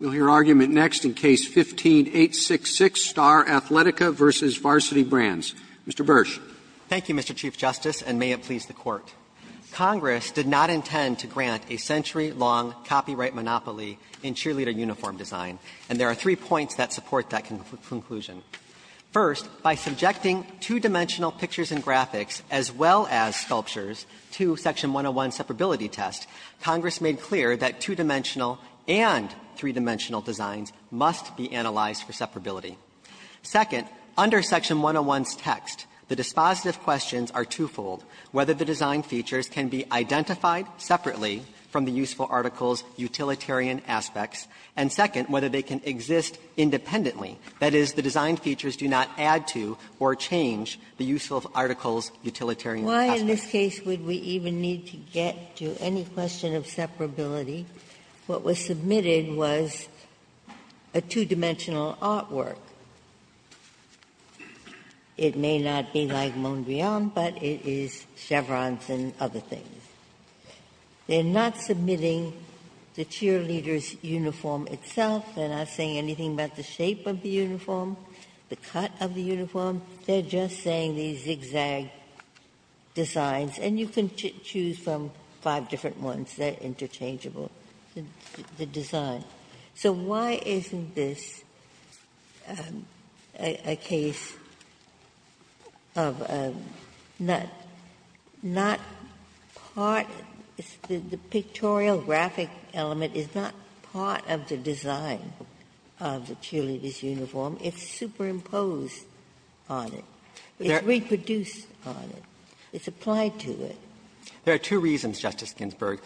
We'll hear argument next in Case 15-866, Star Athletica v. Varsity Brands. Mr. Bursch. Thank you, Mr. Chief Justice, and may it please the Court. Congress did not intend to grant a century-long copyright monopoly in cheerleader uniform design, and there are three points that support that conclusion. First, by subjecting two-dimensional pictures and graphics, as well as sculptures, to Section 101's separability test, Congress made clear that two-dimensional and three-dimensional designs must be analyzed for separability. Second, under Section 101's text, the dispositive questions are twofold, whether the design features can be identified separately from the useful article's utilitarian aspects, and second, whether they can exist independently, that is, the design features do not add to or change the useful article's utilitarian aspects. Why in this case would we even need to get to any question of separability? What was submitted was a two-dimensional artwork. It may not be like Mondrian, but it is chevrons and other things. They're not submitting the cheerleader's uniform itself. They're not saying anything about the shape of the uniform, the cut of the uniform. They're just saying these zigzag designs, and you can choose from five different ones that are interchangeable, the design. So why isn't this a case of not part of the pictorial graphic element, is not part of the design of the cheerleader's uniform. It's superimposed on it. It's reproduced on it. It's applied to it. Burschelgauer There are two reasons, Justice Ginsburg.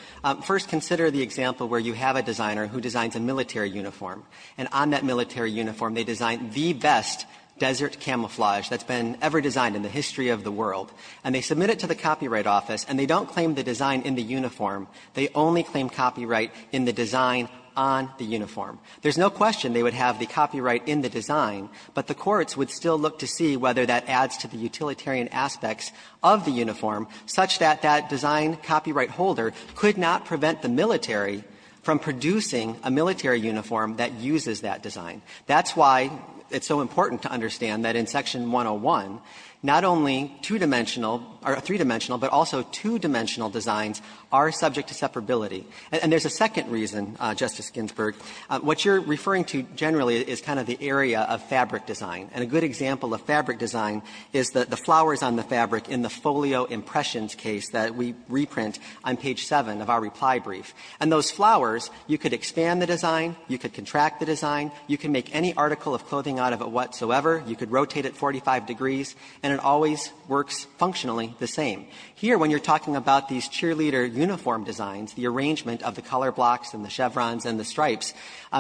First, consider the example where you have a designer who designs a military uniform, and on that military uniform they design the best desert camouflage that's been ever designed in the history of the world. And they submit it to the Copyright Office, and they don't claim the design in the uniform. They only claim copyright in the design on the uniform. There's no question they would have the copyright in the design, but the courts would still look to see whether that adds to the utilitarian aspects of the uniform such that that design copyright holder could not prevent the military from producing a military uniform that uses that design. That's why it's so important to understand that in Section 101, not only two-dimensional or three-dimensional, but also two-dimensional designs are subject to separability. And there's a second reason, Justice Ginsburg. What you're referring to generally is kind of the area of fabric design. And a good example of fabric design is the flowers on the fabric in the folio impressions case that we reprint on page 7 of our reply brief. And those flowers, you could expand the design, you could contract the design, you could make any article of clothing out of it whatsoever, you could rotate it 45 degrees, and it always works functionally the same. Here, when you're talking about these cheerleader uniform designs, the arrangement of the color blocks and the chevrons and the stripes,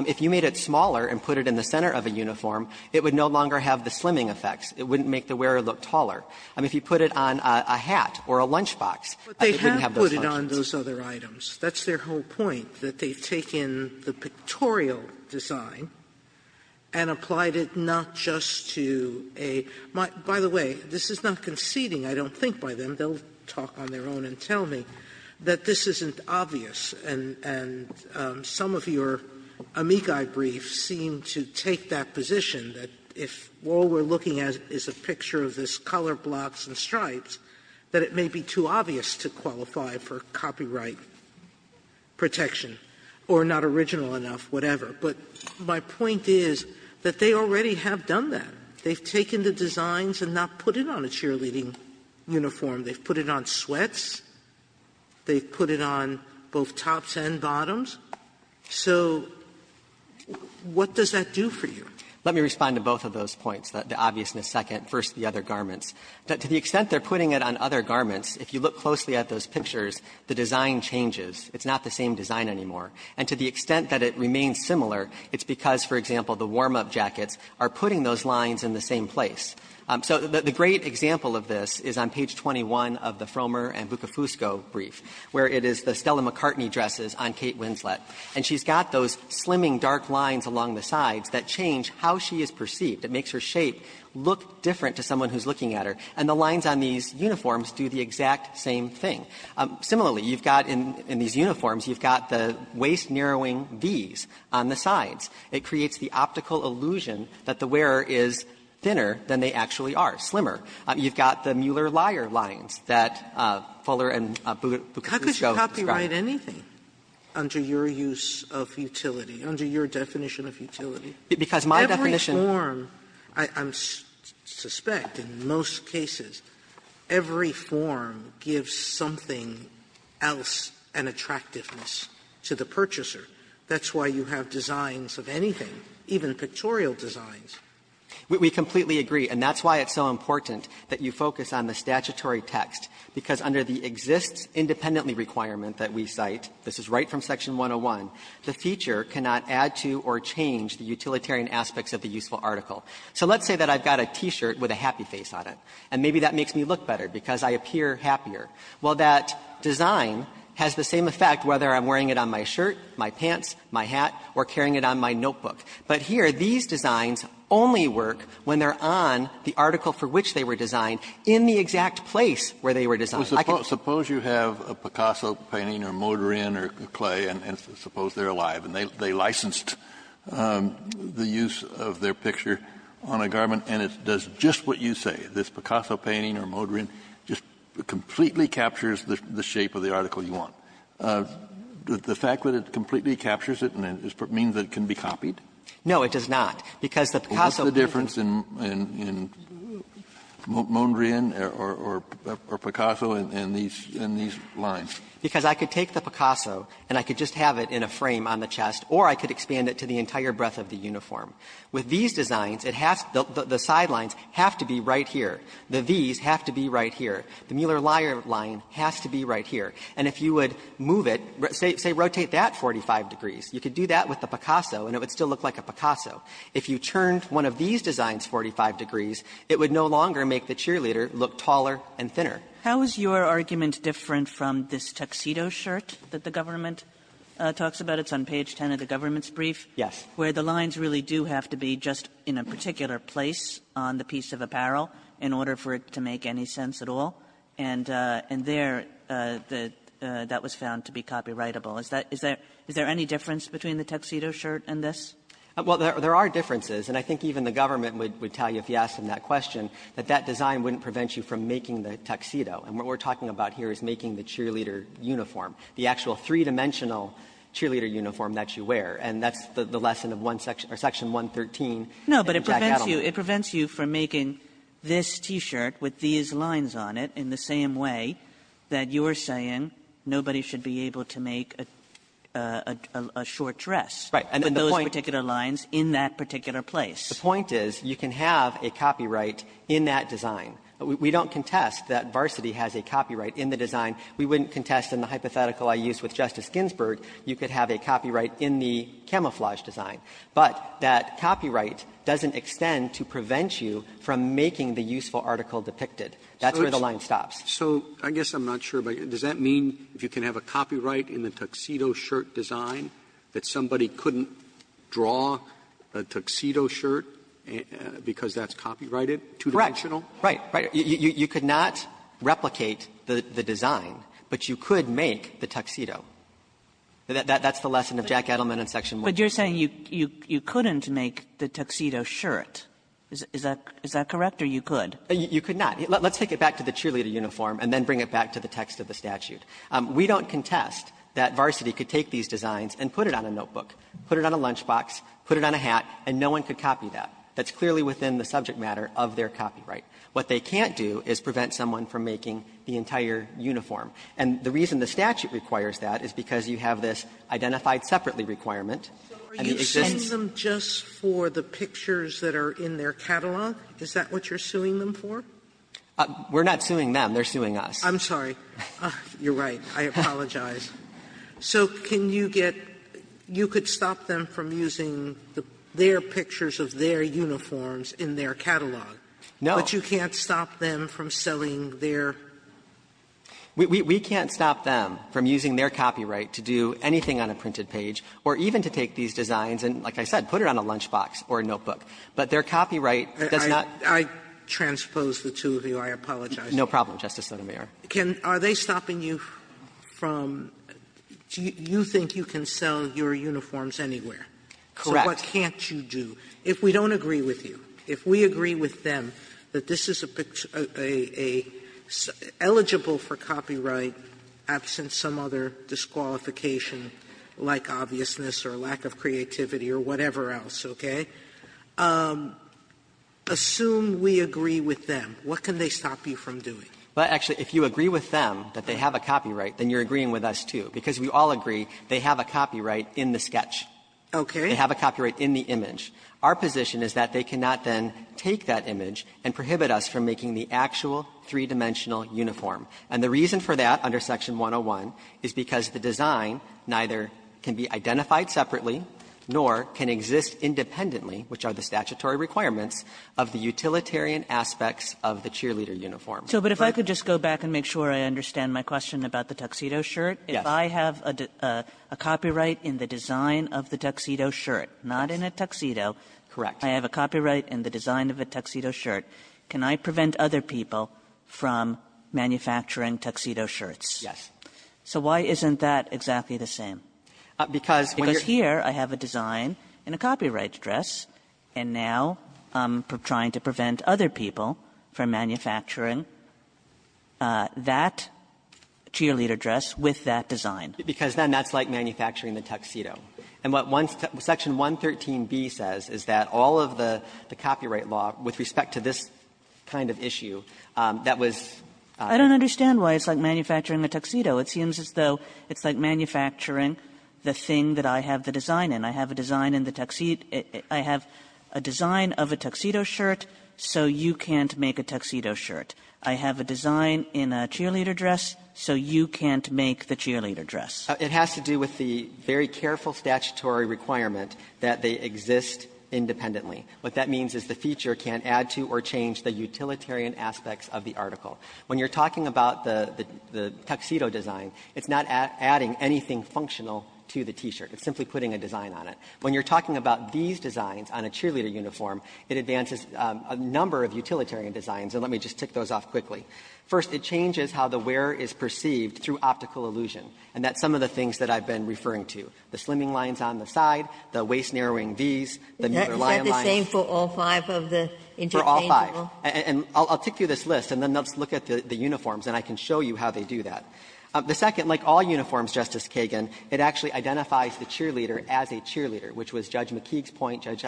if you made it smaller and put it in the center of a uniform, it would no longer have the slimming effects. It wouldn't make the wearer look taller. If you put it on a hat or a lunchbox, it wouldn't have those functions. Sotomayor, but they have put it on those other items. That's their whole point, that they've taken the pictorial design and applied it not just to a by the way, this is not conceding, I don't think, by them. They'll talk on their own and tell me that this isn't obvious, and some of your amici briefs seem to take that position, that if all we're looking at is a picture of this color blocks and stripes, that it may be too obvious to qualify for copyright protection or not original enough, whatever. But my point is that they already have done that. They've taken the designs and not put it on a cheerleading uniform. They've put it on sweats. They've put it on both tops and bottoms. So what does that do for you? Let me respond to both of those points, the obviousness second, first the other garments. To the extent they're putting it on other garments, if you look closely at those pictures, the design changes. It's not the same design anymore. And to the extent that it remains similar, it's because, for example, the warm-up jackets are putting those lines in the same place. So the great example of this is on page 21 of the Frommer and Bukofusco brief, where it is the Stella McCartney dresses on Kate Winslet. And she's got those slimming dark lines along the sides that change how she is perceived. It makes her shape look different to someone who's looking at her. And the lines on these uniforms do the exact same thing. Similarly, you've got in these uniforms, you've got the waist-narrowing Vs on the sides. It creates the optical illusion that the wearer is thinner than they actually are, slimmer. You've got the Mueller-Lyer lines that Fuller and Bukofusco describe. Sotomayor, under your use of utility, under your definition of utility. Every form, I suspect in most cases, every form gives something else an attractiveness to the purchaser. That's why you have designs of anything, even pictorial designs. Burschelgauer We completely agree. And that's why it's so important that you focus on the statutory text, because under the Exists Independently requirement that we cite, this is right from Section 101, the feature cannot add to or change the utilitarian aspects of the useful article. So let's say that I've got a T-shirt with a happy face on it, and maybe that makes me look better because I appear happier. Well, that design has the same effect whether I'm wearing it on my shirt, my pants, my hat, or carrying it on my notebook. But here, these designs only work when they're on the article for which they were designed in the exact place where they were designed. Kennedy Suppose you have a Picasso painting or Modorin or Klee, and suppose they're alive, and they licensed the use of their picture on a garment, and it does just what you say, this Picasso painting or Modorin just completely captures the shape of the article you want. The fact that it completely captures it means that it can be copied? Burschelgauer No, it does not, because the Picasso painting can be copied. Kennedy What's the difference in Modorin or Picasso in these lines? Burschelgauer Because I could take the Picasso and I could just have it in a frame on the chest or I could expand it to the entire breadth of the uniform. With these designs, it has the sidelines have to be right here, the V's have to be right here, the Mueller-Lyer line has to be right here. And if you would move it, say rotate that 45 degrees, you could do that with the Picasso and it would still look like a Picasso. If you turned one of these designs 45 degrees, it would no longer make the cheerleader look taller and thinner. Kagan How is your argument different from this tuxedo shirt that the government It's on page 10 of the government's brief. Burschelgauer Yes. Kagan Where the lines really do have to be just in a particular place on the piece of apparel in order for it to make any sense at all? And there, that was found to be copyrightable. Is there any difference between the tuxedo shirt and this? Burschelgauer Well, there are differences. And I think even the government would tell you if you asked them that question that that design wouldn't prevent you from making the tuxedo. And what we're talking about here is making the cheerleader uniform, the actual three-dimensional cheerleader uniform that you wear. And that's the lesson of one section or section 113 in Jack Adelman. Kagan No, but it prevents you from making this T-shirt with these lines on it in the same way that you're saying nobody should be able to make a short dress. Burschelgauer Right. And the point Kagan With those particular lines in that particular place. Burschelgauer The point is you can have a copyright in that design. We don't contest that Varsity has a copyright in the design. We wouldn't contest in the hypothetical I used with Justice Ginsburg, you could have a copyright in the camouflage design. But that copyright doesn't extend to prevent you from making the useful article depicted. That's where the line stops. Roberts So I guess I'm not sure, but does that mean if you can have a copyright in the tuxedo shirt design that somebody couldn't draw a tuxedo shirt because that's copyrighted, two-dimensional? Burschelgauer Right. Right. You could not replicate the design, but you could make the tuxedo. That's the lesson of Jack Edelman in Section 1. Kagan But you're saying you couldn't make the tuxedo shirt. Is that correct or you could? Burschelgauer You could not. Let's take it back to the cheerleader uniform and then bring it back to the text of the statute. We don't contest that Varsity could take these designs and put it on a notebook, put it on a lunchbox, put it on a hat, and no one could copy that. That's clearly within the subject matter of their copyright. What they can't do is prevent someone from making the entire uniform. And the reason the statute requires that is because you have this identified separately requirement. Sotomayor Are you suing them just for the pictures that are in their catalog? Is that what you're suing them for? Burschelgauer We're not suing them. They're suing us. Sotomayor I'm sorry. You're right. I apologize. So can you get you could stop them from using their pictures of their uniforms in their catalog. Burschelgauer No. Sotomayor But you can't stop them from selling their. Burschelgauer We can't stop them from using their copyright to do anything on a printed page or even to take these designs and, like I said, put it on a lunchbox or a notebook. But their copyright does not. Sotomayor I transpose the two of you. I apologize. Burschelgauer No problem, Justice Sotomayor. Sotomayor Are they stopping you from do you think you can sell your uniforms anywhere? Burschelgauer Correct. Sotomayor So what can't you do? If we don't agree with you, if we agree with them that this is a eligible for copyright absent some other disqualification like obviousness or lack of creativity or whatever else, okay, assume we agree with them, what can they stop you from doing? Burschelgauer Well, actually, if you agree with them that they have a copyright, then you're agreeing with us, too. Because we all agree they have a copyright in the sketch. Sotomayor Okay. Burschelgauer They have a copyright in the image. Our position is that they cannot then take that image and prohibit us from making the actual three-dimensional uniform. And the reason for that under Section 101 is because the design neither can be identified separately nor can exist independently, which are the statutory requirements, of the utilitarian aspects of the cheerleader uniform. Kagan So but if I could just go back and make sure I understand my question about the tuxedo shirt. Burschelgauer Yes. Kagan So if I have a copyright in the design of the tuxedo shirt, not in a tuxedo Burschelgauer Correct. Kagan ---- I have a copyright in the design of a tuxedo shirt, can I prevent other people from manufacturing tuxedo shirts? Burschelgauer Yes. Kagan So why isn't that exactly the same? Burschelgauer Because when you're ---- Kagan Because here I have a design in a copyright dress, and now I'm trying to prevent other people from manufacturing that cheerleader dress with that design. Burschelgauer Because then that's like manufacturing the tuxedo. And what one ---- Section 113b says is that all of the copyright law with respect to this kind of issue, that was ---- Kagan I don't understand why it's like manufacturing a tuxedo. It seems as though it's like manufacturing the thing that I have the design in. Kagan So you can't make a tuxedo shirt. I have a design in a cheerleader dress, so you can't make the cheerleader dress. Burschelgauer It has to do with the very careful statutory requirement that they exist independently. What that means is the feature can't add to or change the utilitarian aspects of the article. When you're talking about the tuxedo design, it's not adding anything functional to the T-shirt. It's simply putting a design on it. When you're talking about these designs on a cheerleader uniform, it advances a number of utilitarian designs. And let me just tick those off quickly. First, it changes how the wearer is perceived through optical illusion. And that's some of the things that I've been referring to, the slimming lines on the side, the waist-narrowing Vs, the muter lion lines. Ginsburg Is that the same for all five of the interchangeable? Burschelgauer For all five. And I'll tick through this list, and then let's look at the uniforms, and I can show you how they do that. The second, like all uniforms, Justice Kagan, it actually identifies the cheerleader as a cheerleader, which was Judge McKeague's point, Judge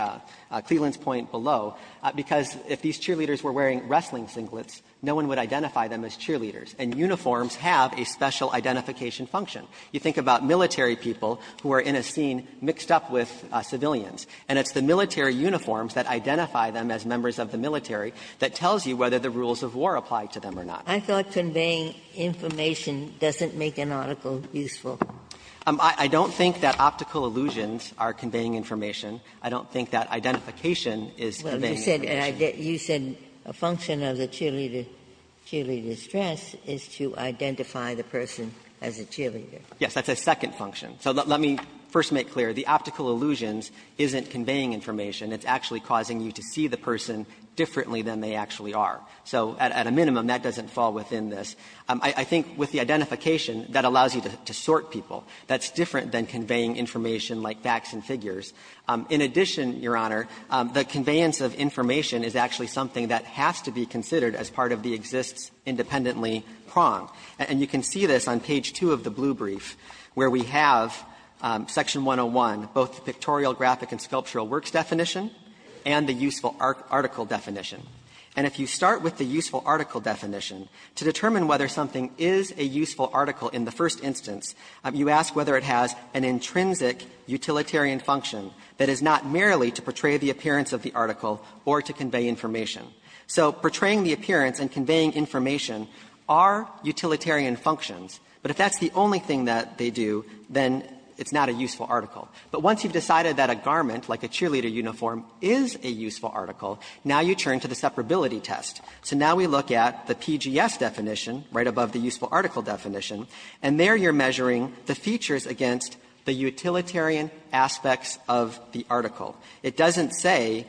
Cleland's point below, because if these cheerleaders were wearing wrestling singlets, no one would identify them as cheerleaders. And uniforms have a special identification function. You think about military people who are in a scene mixed up with civilians, and it's the military uniforms that identify them as members of the military that tells you whether the rules of war apply to them or not. Ginsburg I thought conveying information doesn't make an article useful. Burschelgauer I don't think that optical illusions are conveying information. I don't think that identification is conveying information. Ginsburg You said a function of the cheerleader's dress is to identify the person as a cheerleader. Burschelgauer Yes, that's a second function. So let me first make clear, the optical illusions isn't conveying information. It's actually causing you to see the person differently than they actually are. So at a minimum, that doesn't fall within this. I think with the identification, that allows you to sort people. That's different than conveying information like facts and figures. In addition, Your Honor, the conveyance of information is actually something that has to be considered as part of the exists independently prong. And you can see this on page 2 of the blue brief, where we have section 101, both the pictorial, graphic, and sculptural works definition and the useful article definition. And if you start with the useful article definition, to determine whether something is a useful article in the first instance, you ask whether it has an intrinsic utilitarian function that is not merely to portray the appearance of the article or to convey information. So portraying the appearance and conveying information are utilitarian functions. But if that's the only thing that they do, then it's not a useful article. But once you've decided that a garment, like a cheerleader uniform, is a useful article, now you turn to the separability test. So now we look at the PGS definition right above the useful article definition, and there you're measuring the features against the utilitarian aspects of the article. It doesn't say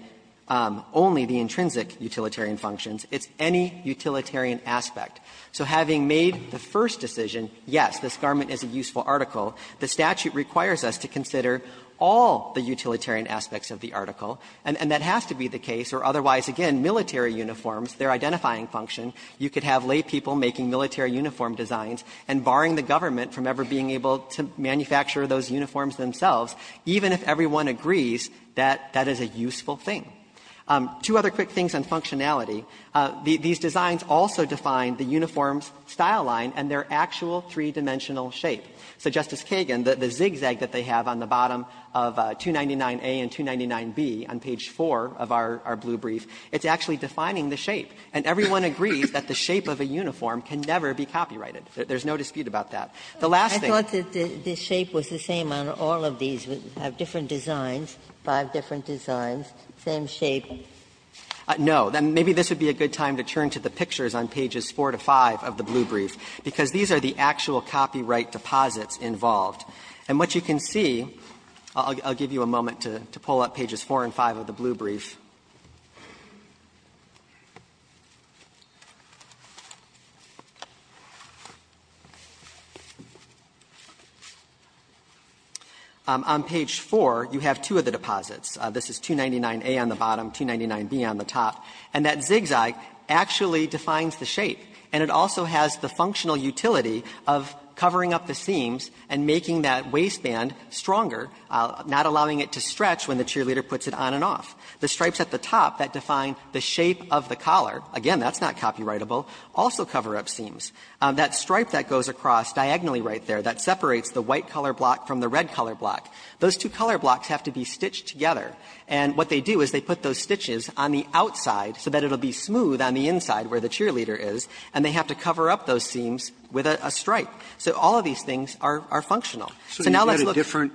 only the intrinsic utilitarian functions. It's any utilitarian aspect. So having made the first decision, yes, this garment is a useful article, the statute requires us to consider all the utilitarian aspects of the article, and that has to be the case. Or otherwise, again, military uniforms, their identifying function, you could have laypeople making military uniform designs and barring the government from ever being able to manufacture those uniforms themselves, even if everyone agrees that that is a useful thing. Two other quick things on functionality. These designs also define the uniform's style line and their actual three-dimensional shape. So Justice Kagan, the zigzag that they have on the bottom of 299A and 299B on page 4 of our blue brief, it's actually defining the shape. And everyone agrees that the shape of a uniform can never be copyrighted. There's no dispute about that. The last thing. Ginsburg-Miller I thought that the shape was the same on all of these. We have different designs, five different designs, same shape. Bursch No. Maybe this would be a good time to turn to the pictures on pages 4 to 5 of the blue brief, because these are the actual copyright deposits involved. And what you can see, I'll give you a moment to pull up pages 4 and 5 of the blue brief. On page 4, you have two of the deposits. This is 299A on the bottom, 299B on the top. And that zigzag actually defines the shape. And it also has the functional utility of covering up the seams and making that waistband stronger, not allowing it to stretch when the cheerleader puts it on and off. The stripes at the top that define the shape of the collar, again, that's not copyrightable, also cover up seams. That stripe that goes across diagonally right there, that separates the white color block from the red color block, those two color blocks have to be stitched together. And what they do is they put those stitches on the outside so that it will be smooth on the inside where the cheerleader is, and they have to cover up those seams with a stripe. So all of these things are functional. So now let's look at the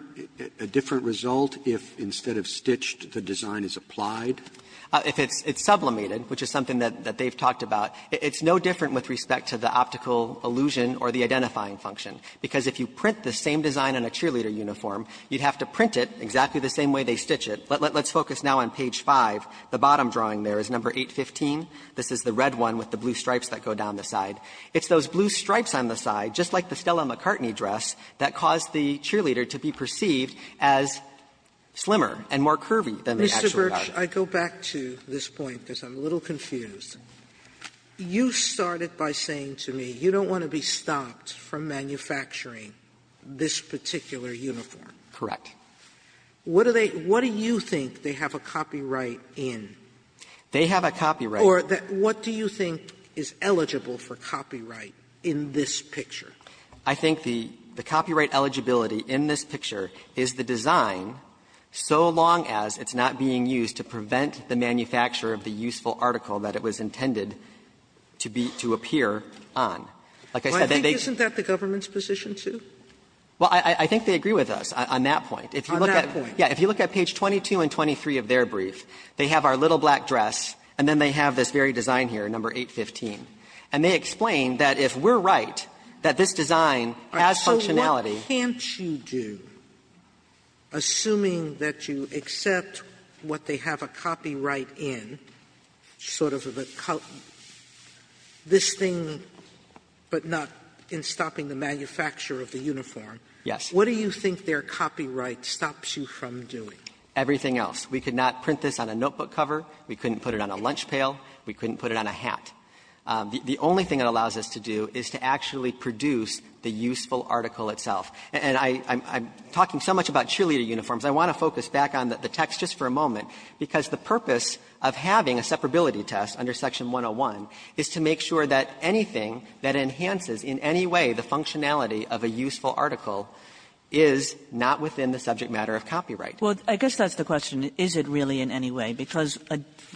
other. If it's sublimated, which is something that they've talked about, it's no different with respect to the optical illusion or the identifying function, because if you print the same design on a cheerleader uniform, you'd have to print it exactly the same way they stitch it. Let's focus now on page 5. The bottom drawing there is number 815. This is the red one with the blue stripes that go down the side. It's those blue stripes on the side, just like the Stella McCartney dress, that caused Sotomayor, I go back to this point because I'm a little confused. You started by saying to me, you don't want to be stopped from manufacturing this particular uniform. Correct. What do they – what do you think they have a copyright in? They have a copyright. Or what do you think is eligible for copyright in this picture? I think the copyright eligibility in this picture is the design, so long as it's not being used to prevent the manufacture of the useful article that it was intended to be – to appear on. Like I said, they – Well, I think isn't that the government's position, too? Well, I think they agree with us on that point. On that point. Yeah. If you look at page 22 and 23 of their brief, they have our little black dress, and then they have this very design here, number 815. And they explain that if we're right, that this design has functionality What can't you do, assuming that you accept what they have a copyright in, sort of the – this thing, but not in stopping the manufacture of the uniform? Yes. What do you think their copyright stops you from doing? Everything else. We could not print this on a notebook cover. We couldn't put it on a lunch pail. We couldn't put it on a hat. The only thing it allows us to do is to actually produce the useful article itself. And I'm talking so much about cheerleader uniforms. I want to focus back on the text just for a moment, because the purpose of having a separability test under Section 101 is to make sure that anything that enhances in any way the functionality of a useful article is not within the subject matter of copyright. Well, I guess that's the question. Is it really in any way? Because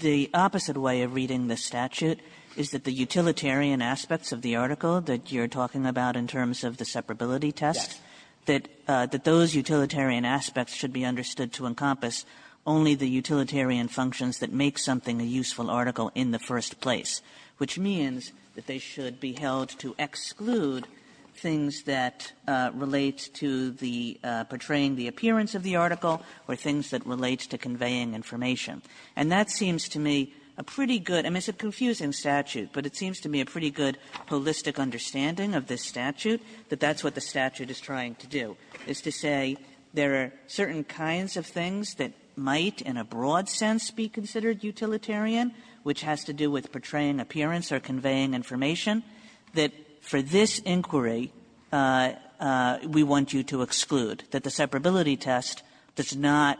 the opposite way of reading the statute is that the utilitarian aspects of the article that you're talking about in terms of the separability test, that those utilitarian aspects should be understood to encompass only the utilitarian functions that make something a useful article in the first place, which means that they should be held to exclude things that relate to the portraying the appearance of the article or things that relate to conveying information. And that seems to me a pretty good – I mean, it's a confusing statute, but it seems to me a pretty good holistic understanding of this statute that that's what the statute is trying to do, is to say there are certain kinds of things that might in a broad sense be considered utilitarian, which has to do with portraying appearance or conveying information, that for this inquiry, we want you to exclude, that the separability test does not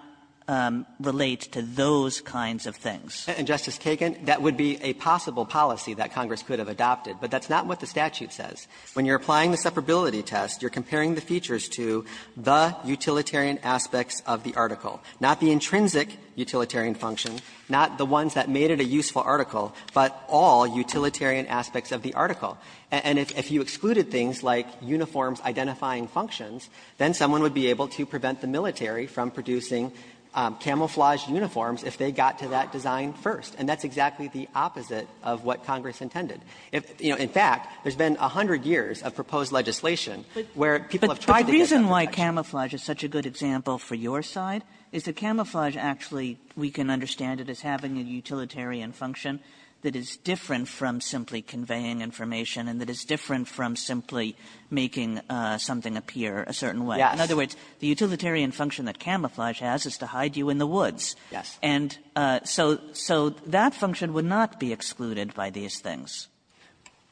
relate to those kinds of things. Bursch, and Justice Kagan, that would be a possible policy that Congress could have adopted, but that's not what the statute says. When you're applying the separability test, you're comparing the features to the utilitarian aspects of the article, not the intrinsic utilitarian function, not the ones that made it a useful article, but all utilitarian aspects of the article. And if you excluded things like uniforms identifying functions, then someone would be able to prevent the military from producing camouflaged uniforms if they got to that design first. And that's exactly the opposite of what Congress intended. If you know – in fact, there's been a hundred years of proposed legislation where people have tried to get that reaction. Kagan Is the camouflage actually we can understand it as having a utilitarian function that is different from simply conveying information and that is different from simply making something appear a certain way? In other words, the utilitarian function that camouflage has is to hide you in the woods. And so that function would not be excluded by these things. Bursch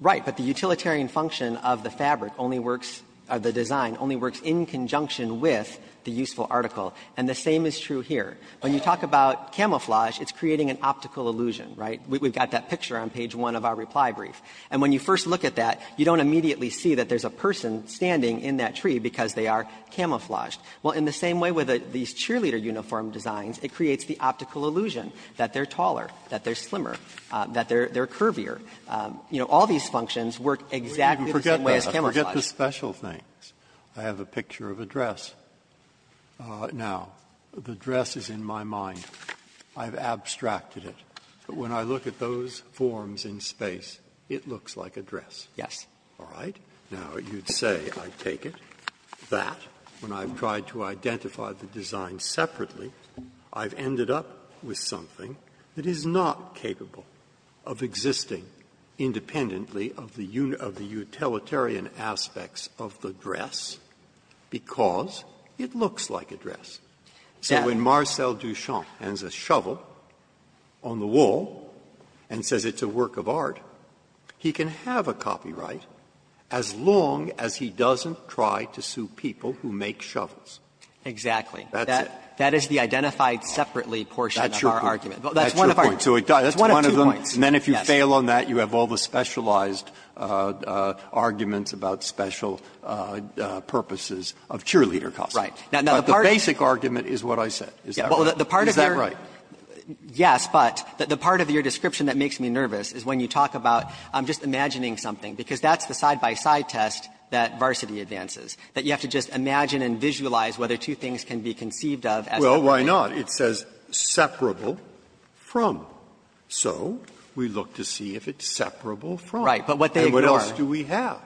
Right. But the utilitarian function of the fabric only works – or the design only works in conjunction with the useful article. And the same is true here. When you talk about camouflage, it's creating an optical illusion, right? We've got that picture on page 1 of our reply brief. And when you first look at that, you don't immediately see that there's a person standing in that tree because they are camouflaged. Well, in the same way with these cheerleader uniform designs, it creates the optical illusion that they're taller, that they're slimmer, that they're curvier. You know, all these functions work exactly the same way as camouflage. Breyer Forget the special things. I have a picture of a dress. Now, the dress is in my mind. I've abstracted it. But when I look at those forms in space, it looks like a dress. Bursch Yes. Breyer All right? Now, you'd say, I take it, that when I've tried to identify the design separately, I've ended up with something that is not capable of existing independently of the utilitarian aspects of the dress because it looks like a dress. So when Marcel Duchamp hands a shovel on the wall and says it's a work of art, he can have a copyright as long as he doesn't try to sue people who make shovels. Bursch Exactly. Breyer That's it. Bursch That is the identified separately portion of our argument. Breyer That's your point. That's one of two points. And then if you fail on that, you have all the specialized arguments about special purposes of cheerleader costumes. Bursch Right. Now, the part of your Breyer But the basic argument is what I said. Is that right? Is that right? Bursch Yes, but the part of your description that makes me nervous is when you talk about just imagining something, because that's the side-by-side test that Varsity advances, that you have to just imagine and visualize whether two things can be conceived of as the way they are. Breyer Well, why not? It says separable from. So we look to see if it's separable from. Bursch Right. But what they ignore. Breyer And what else do we have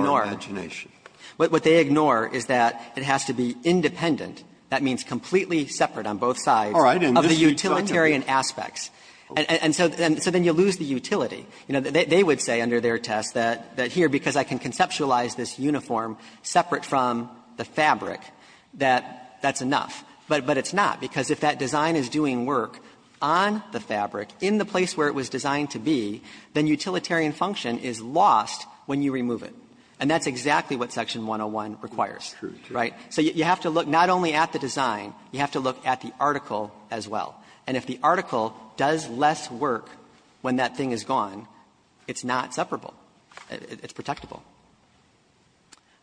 in our imagination? Bursch But what they ignore is that it has to be independent. That means completely separate on both sides of the utilitarian aspects. And so then you lose the utility. You know, they would say under their test that here, because I can conceptualize this uniform separate from the fabric, that that's enough. But it's not, because if that design is doing work on the fabric in the place where it was designed to be, then utilitarian function is lost when you remove it. And that's exactly what section 101 requires. Breyer True. True. Bursch Right. So you have to look not only at the design, you have to look at the article as well. And if the article does less work when that thing is gone, it's not separable. It's protectable.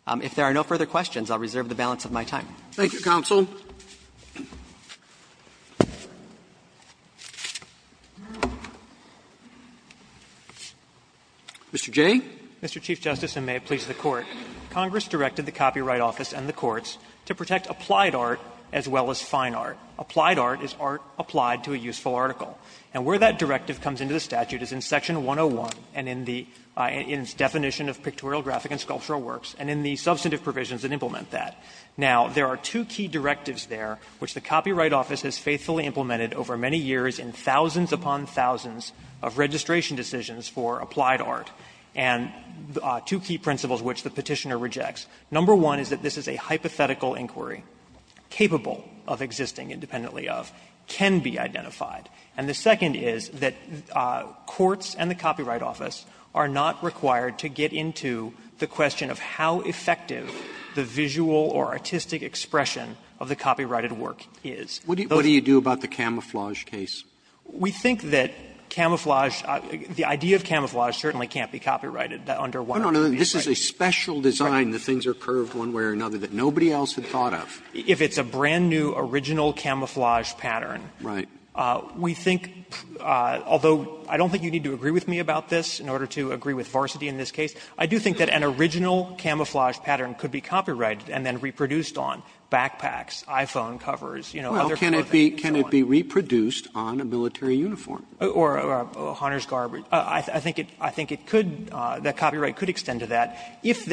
If there are no further questions, I'll reserve the balance of my time. Roberts Thank you, counsel. Mr. Jay. Jay Mr. Chief Justice, and may it please the Court. Congress directed the Copyright Office and the courts to protect applied art as well as fine art. Applied art is art applied to a useful article. And where that directive comes into the statute is in section 101 and in the definition of pictorial, graphic, and sculptural works, and in the substantive provisions that implement that. Now, there are two key directives there which the Copyright Office has faithfully implemented over many years in thousands upon thousands of registration decisions for applied art, and two key principles which the Petitioner rejects. Number one is that this is a hypothetical inquiry capable of existing independently of, can be identified. And the second is that courts and the Copyright Office are not required to get into the question of how effective the visual or artistic expression of the copyrighted work is. Roberts What do you do about the camouflage case? Jay We think that camouflage, the idea of camouflage certainly can't be copyrighted under one of the three. This is a special design, the things are curved one way or another, that nobody else had thought of. Roberts If it's a brand-new original camouflage pattern, we think, although I don't think you need to agree with me about this in order to agree with Varsity in this case, I do think that an original camouflage pattern could be copyrighted and then reproduced on backpacks, iPhone covers, you know, other clothing and so on. Roberts Well, can it be reproduced on a military uniform? Roberts Or a hunter's garb. I think it could, that copyright could extend to that. If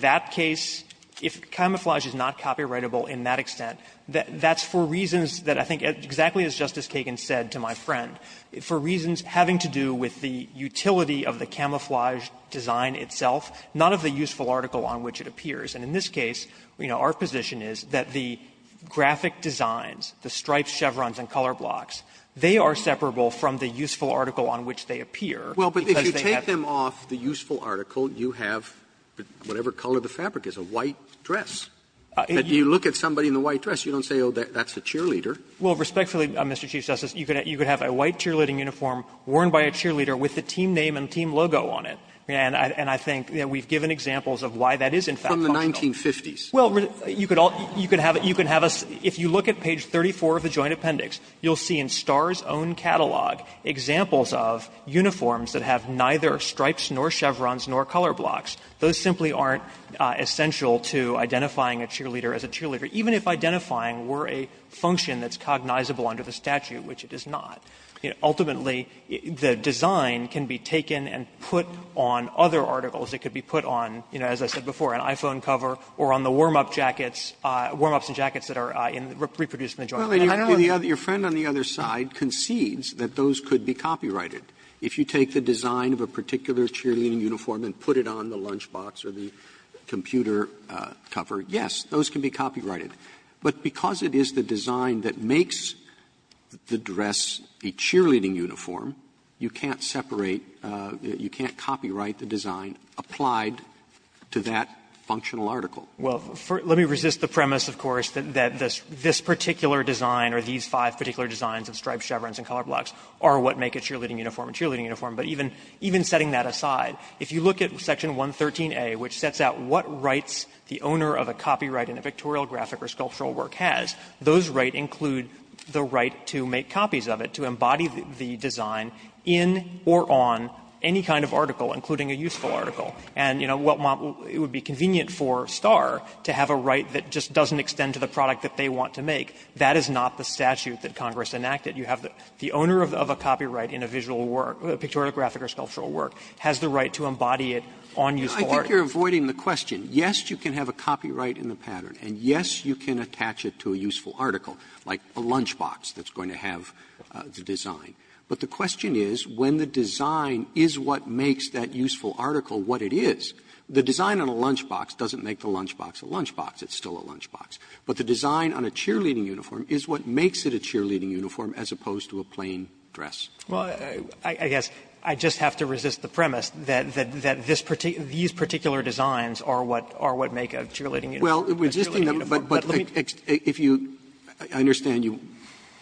that case, if camouflage is not copyrightable in that extent, that's for reasons that I think, exactly as Justice Kagan said to my friend, for reasons having to do with the utility of the camouflage design itself, not of the useful article on which it appears. And in this case, you know, our position is that the graphic designs, the stripes, chevrons and color blocks, they are separable from the useful article on which they appear. Roberts Well, but if you take them off the useful article, you have whatever color the fabric is, a white dress. If you look at somebody in a white dress, you don't say, oh, that's a cheerleader. Roberts Well, respectfully, Mr. Chief Justice, you could have a white cheerleading uniform worn by a cheerleader with the team name and team logo on it. And I think we've given examples of why that is in fact possible. Roberts From the 1950s. Roberts Well, you could have a – if you look at page 34 of the Joint Appendix, you'll see in Starr's own catalog examples of uniforms that have neither stripes nor chevrons nor color blocks. Those simply aren't essential to identifying a cheerleader as a cheerleader, even if identifying were a function that's cognizable under the statute, which it is not. Ultimately, the design can be taken and put on other articles. It could be put on, you know, as I said before, an iPhone cover or on the warm-up jackets, warm-ups and jackets that are reproduced in the Joint Appendix. And I don't know if the other – your friend on the other side concedes that those could be copyrighted. If you take the design of a particular cheerleading uniform and put it on the lunch box or the computer cover, yes, those can be copyrighted. But because it is the design that makes the dress a cheerleading uniform, you can't separate – you can't copyright the design applied to that functional article. Well, let me resist the premise, of course, that this particular design or these five particular designs of stripes, chevrons and color blocks are what make a cheerleading uniform a cheerleading uniform. But even setting that aside, if you look at Section 113a, which sets out what rights the owner of a copyright in a pictorial, graphic or sculptural work has, those rights include the right to make copies of it, to embody the design in or on any kind of article, including a useful article. And, you know, what – it would be convenient for Star to have a right that just doesn't extend to the product that they want to make. That is not the statute that Congress enacted. You have the owner of a copyright in a visual work, a pictorial, graphic or sculptural work, has the right to embody it on useful articles. Roberts. Roberts. I think you're avoiding the question. Yes, you can have a copyright in the pattern, and yes, you can attach it to a useful article, like a lunch box that's going to have the design. But the question is, when the design is what makes that useful article what it is. The design on a lunch box doesn't make the lunch box a lunch box. It's still a lunch box. But the design on a cheerleading uniform is what makes it a cheerleading uniform as opposed to a plain dress. Well, I guess I just have to resist the premise that this particular – these particular designs are what make a cheerleading uniform a cheerleading uniform. But if you – I understand you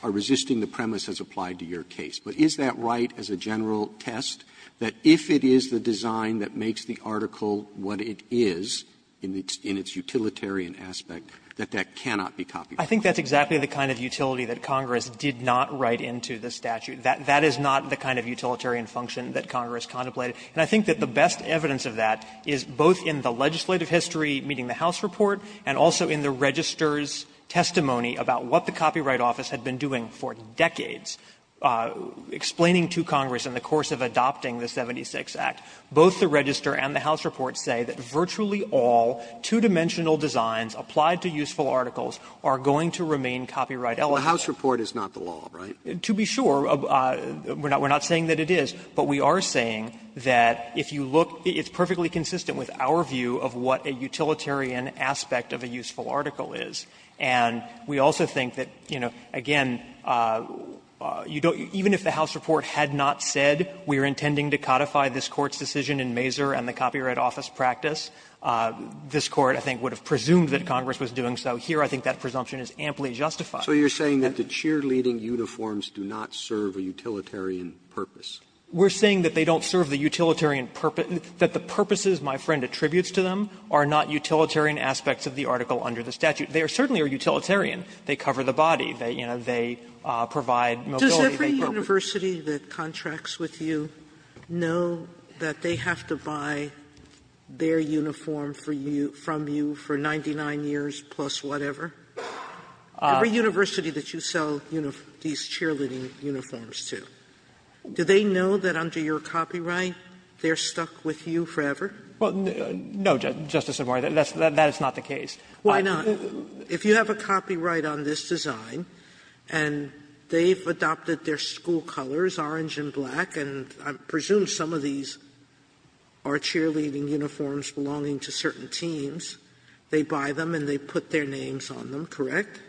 are resisting the premise as applied to your case. But is that right as a general test, that if it is the design that makes the article what it is in its utilitarian aspect, that that cannot be copyright? I think that's exactly the kind of utility that Congress did not write into the statute. That is not the kind of utilitarian function that Congress contemplated. And I think that the best evidence of that is both in the legislative history meeting the House report and also in the Register's testimony about what the Copyright Office had been doing for decades, explaining to Congress in the course of adopting the 76 Act, both the Register and the House report say that virtually all two-dimensional designs applied to useful articles are going to remain copyright eligible. The House report is not the law, right? To be sure, we are not saying that it is. But we are saying that if you look – it's perfectly consistent with our view of what a utilitarian aspect of a useful article is. And we also think that, you know, again, you don't – even if the House report had not said, we are intending to codify this Court's decision in Mazur and the Copyright Office practice, this Court, I think, would have presumed that Congress was doing so. Here, I think that presumption is amply justified. Roberts, so you are saying that the cheerleading uniforms do not serve a utilitarian purpose? We are saying that they don't serve the utilitarian purpose – that the purposes my friend attributes to them are not utilitarian aspects of the article under the statute. They certainly are utilitarian. They cover the body. They, you know, they provide mobility. Sotomayor, does every university that contracts with you know that they have to buy their uniform for you – from you for 99 years plus whatever? Every university that you sell these cheerleading uniforms to, do they know that under your copyright they are stuck with you forever? Well, no, Justice Sotomayor, that is not the case. Why not? If you have a copyright on this design and they have adopted their school colors, orange and black, and I presume some of these are cheerleading uniforms belonging to certain teams, they buy them and they put their names on them, correct?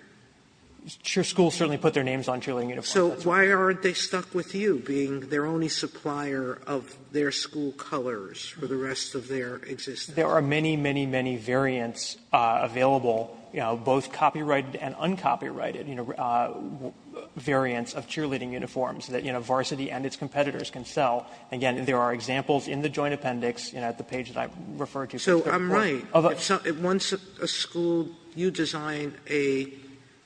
Cheer schools certainly put their names on cheerleading uniforms. So why aren't they stuck with you being their only supplier of their school colors for the rest of their existence? There are many, many, many variants available, you know, both copyrighted and uncopyrighted, you know, variants of cheerleading uniforms that, you know, Varsity and its competitors can sell. Again, there are examples in the Joint Appendix, you know, at the page that I referred to. So I'm right. Once a school – you design a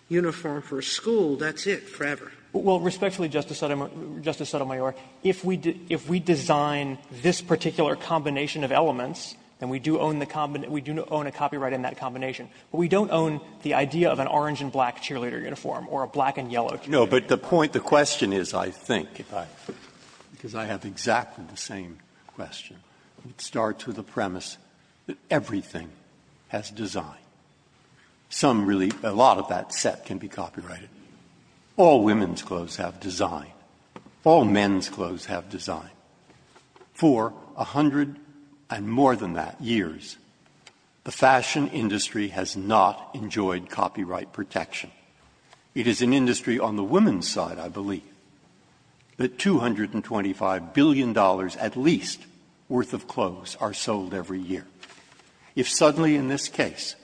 uniform for a school, that's it forever. Well, respectfully, Justice Sotomayor, if we design this particular combination of elements, then we do own the – we do own a copyright in that combination. But we don't own the idea of an orange and black cheerleader uniform or a black and yellow cheerleader uniform. Breyer. No, but the point, the question is, I think, if I – because I have exactly the same question, it starts with the premise that everything has design. Some really – a lot of that set can be copyrighted. All women's clothes have design. All men's clothes have design. For a hundred and more than that years, the fashion industry has not enjoyed copyright protection. It is an industry on the women's side, I believe, that $225 billion at least worth of clothes are sold every year. If suddenly in this case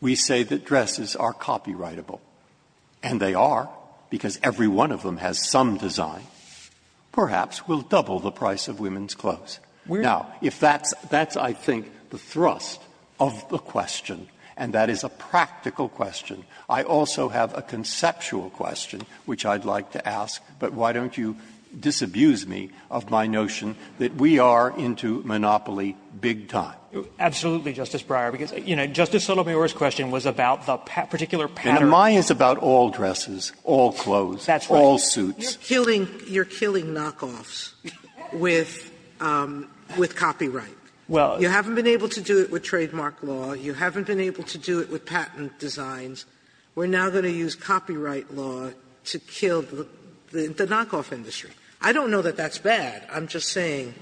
we say that dresses are copyrightable, and they are because every one of them has some design, perhaps we'll double the price of women's clothes. Now, if that's – that's, I think, the thrust of the question, and that is a practical question. I also have a conceptual question, which I'd like to ask, but why don't you disabuse me of my notion that we are into monopoly big time? Absolutely, Justice Breyer, because, you know, Justice Sotomayor's question was about the particular pattern. And mine is about all dresses, all clothes, all suits. You're killing – you're killing knockoffs with – with copyright. Well – You haven't been able to do it with trademark law. You haven't been able to do it with patent designs. We're now going to use copyright law to kill the knockoff industry. I don't know that that's bad. I'm just saying.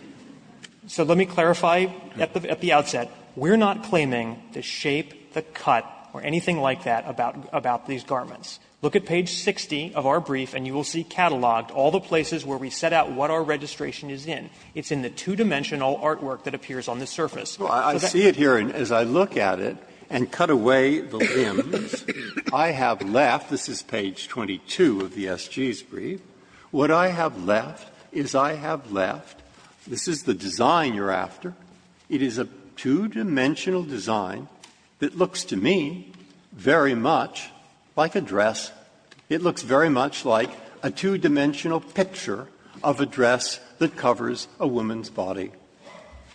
So let me clarify at the outset. We're not claiming the shape, the cut, or anything like that about – about these garments. Look at page 60 of our brief, and you will see cataloged all the places where we set out what our registration is in. It's in the two-dimensional artwork that appears on the surface. So that's why I'm asking you to disabuse me of my notion that we are into monopoly big time. Breyer, I see it here, and as I look at it and cut away the limbs, I have left – this is page 22 of the S.G.'s brief – what I have left is I have left the S.G.'s brief This is the design you're after. It is a two-dimensional design that looks to me very much like a dress. It looks very much like a two-dimensional picture of a dress that covers a woman's body.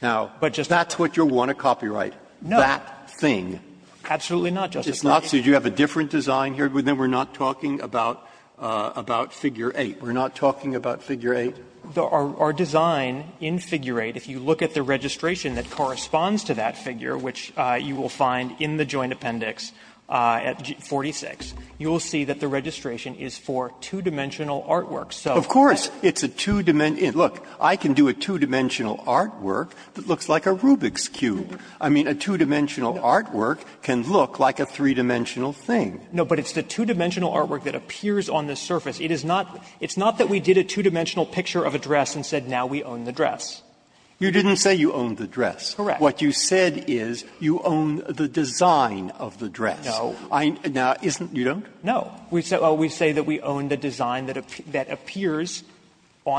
Now, that's what you want at copyright, that thing. Absolutely not, Justice Breyer. It's not? So do you have a different design here? Then we're not talking about – about figure 8. We're not talking about figure 8? Our design in figure 8, if you look at the registration that corresponds to that figure, which you will find in the joint appendix at 46, you will see that the registration is for two-dimensional artwork. Of course. It's a two-dimensional – look, I can do a two-dimensional artwork that looks like a Rubik's cube. I mean, a two-dimensional artwork can look like a three-dimensional thing. No, but it's the two-dimensional artwork that appears on the surface. It is not – it's not that we did a two-dimensional picture of a dress and said, now we own the dress. You didn't say you own the dress. Correct. What you said is you own the design of the dress. No. Now, isn't – you don't? No. We say that we own the design that appears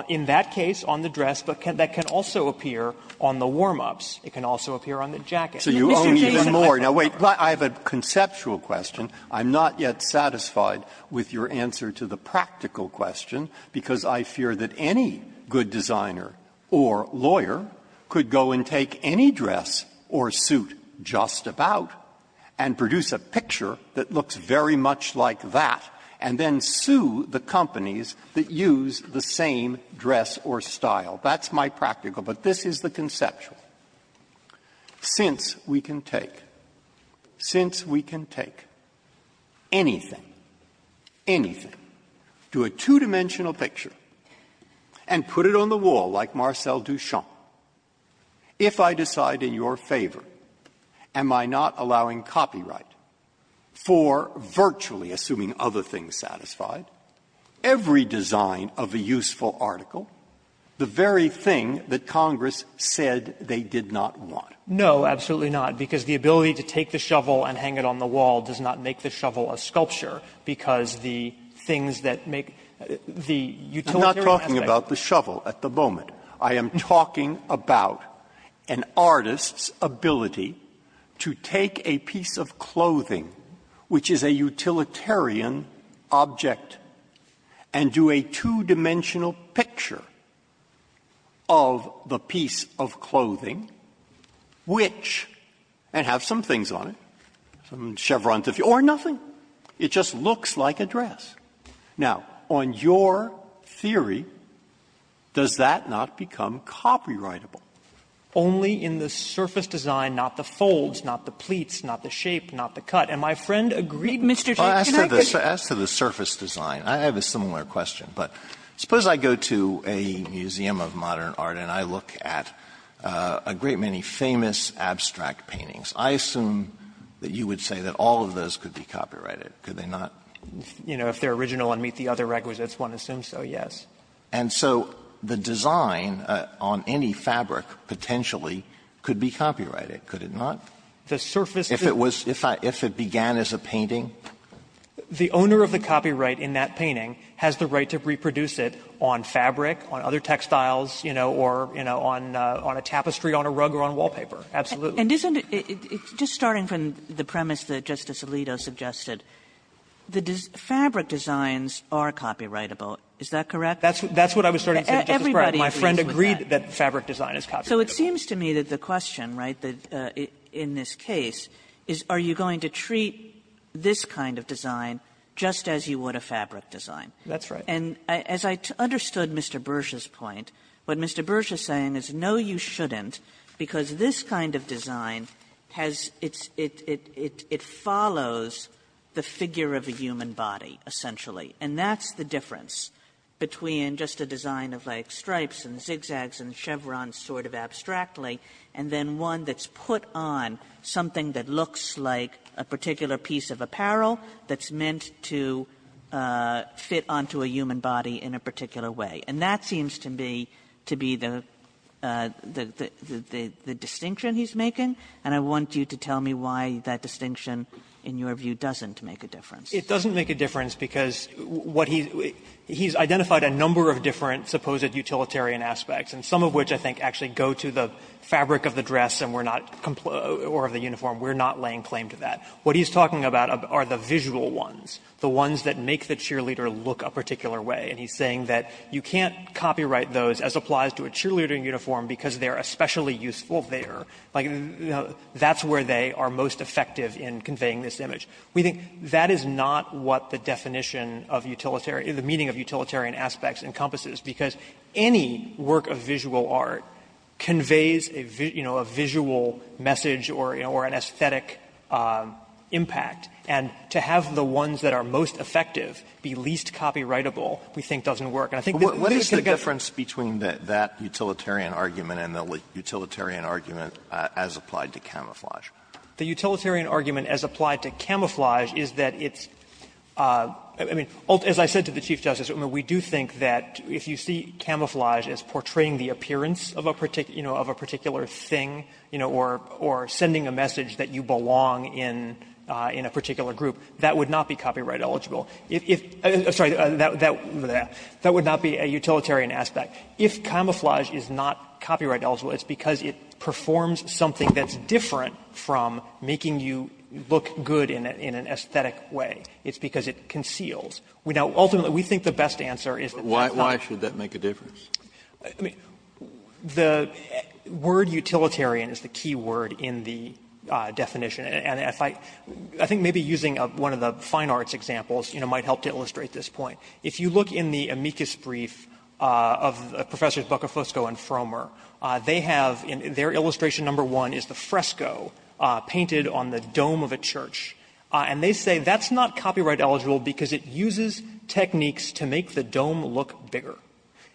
in that case on the dress, but that can also appear on the warm-ups. It can also appear on the jacket. So you own even more. Now, wait. I have a conceptual question. I'm not yet satisfied with your answer to the practical question, because I fear that any good designer or lawyer could go and take any dress or suit just about and produce a picture that looks very much like that, and then sue the companies that use the same dress or style. That's my practical, but this is the conceptual. Since we can take – since we can take anything, anything to a two-dimensional picture and put it on the wall like Marcel Duchamp, if I decide in your favor, am I not allowing copyright for virtually, assuming other things satisfied, every design of a piece of clothing that they did not want? No, absolutely not, because the ability to take the shovel and hang it on the wall does not make the shovel a sculpture, because the things that make – the utilitarian aspect – I'm not talking about the shovel at the moment. I am talking about an artist's ability to take a piece of clothing, which is a utilitarian object, and do a two-dimensional picture of the piece of clothing, which – and have some things on it, some chevrons, or nothing. It just looks like a dress. Now, on your theory, does that not become copyrightable? Only in the surface design, not the folds, not the pleats, not the shape, not the cut. And my friend agreed, Mr. Chief, can I just say one thing? As to the surface design, I have a similar question. But suppose I go to a museum of modern art, and I look at a great many famous abstract paintings. I assume that you would say that all of those could be copyrighted, could they not? You know, if they're original and meet the other requisites, one assumes so, yes. And so the design on any fabric potentially could be copyrighted, could it not? The surface design – If it was – if it began as a painting? The owner of the copyright in that painting has the right to reproduce it on fabric, on other textiles, you know, or, you know, on a tapestry, on a rug, or on wallpaper. Absolutely. And isn't it – just starting from the premise that Justice Alito suggested, the fabric designs are copyrightable, is that correct? That's what I was starting to say, Justice Kagan. My friend agreed that fabric design is copyrightable. So it seems to me that the question, right, in this case, is are you going to treat this kind of design just as you would a fabric design? That's right. And as I understood Mr. Bursch's point, what Mr. Bursch is saying is, no, you shouldn't, because this kind of design has its – it follows the figure of a human body, essentially. And that's the difference between just a design of, like, stripes and zigzags and chevrons sort of abstractly, and then one that's put on something that looks like a particular piece of apparel that's meant to fit onto a human body in a particular way. And that seems to me to be the distinction he's making, and I want you to tell me why that distinction, in your view, doesn't make a difference. It doesn't make a difference because what he's – he's identified a number of different supposed utilitarian aspects, and some of which, I think, actually go to the fabric of the dress and we're not – or of the uniform, we're not laying claim to that. What he's talking about are the visual ones, the ones that make the cheerleader look a particular way. And he's saying that you can't copyright those as applies to a cheerleader uniform because they're especially useful there. Like, that's where they are most effective in conveying this image. We think that is not what the definition of utilitarian – the meaning of utilitarian aspects encompasses, because any work of visual art conveys a, you know, a visual message or, you know, or an aesthetic impact. And to have the ones that are most effective be least copyrightable we think doesn't work. And I think that at least the difference between that utilitarian argument and the utilitarian argument as applied to camouflage. The utilitarian argument as applied to camouflage is that it's – I mean, as I said to the Chief Justice, we do think that if you see camouflage as portraying the appearance of a particular thing, you know, or sending a message that you belong in a particular group, that would not be copyright eligible. If – sorry, that would not be a utilitarian aspect. If camouflage is not copyright eligible, it's because it performs something that's different from making you look good in an aesthetic way. It's because it conceals. Now, ultimately, we think the best answer is that that's not – Kennedy, but why should that make a difference? Feigin, I mean, the word utilitarian is the key word in the definition. And if I – I think maybe using one of the fine arts examples, you know, might help to illustrate this point. If you look in the amicus brief of Professors Boccafosco and Fromer, they have – their illustration number one is the fresco painted on the dome of a church. And they say that's not copyright eligible because it uses techniques to make the dome look bigger.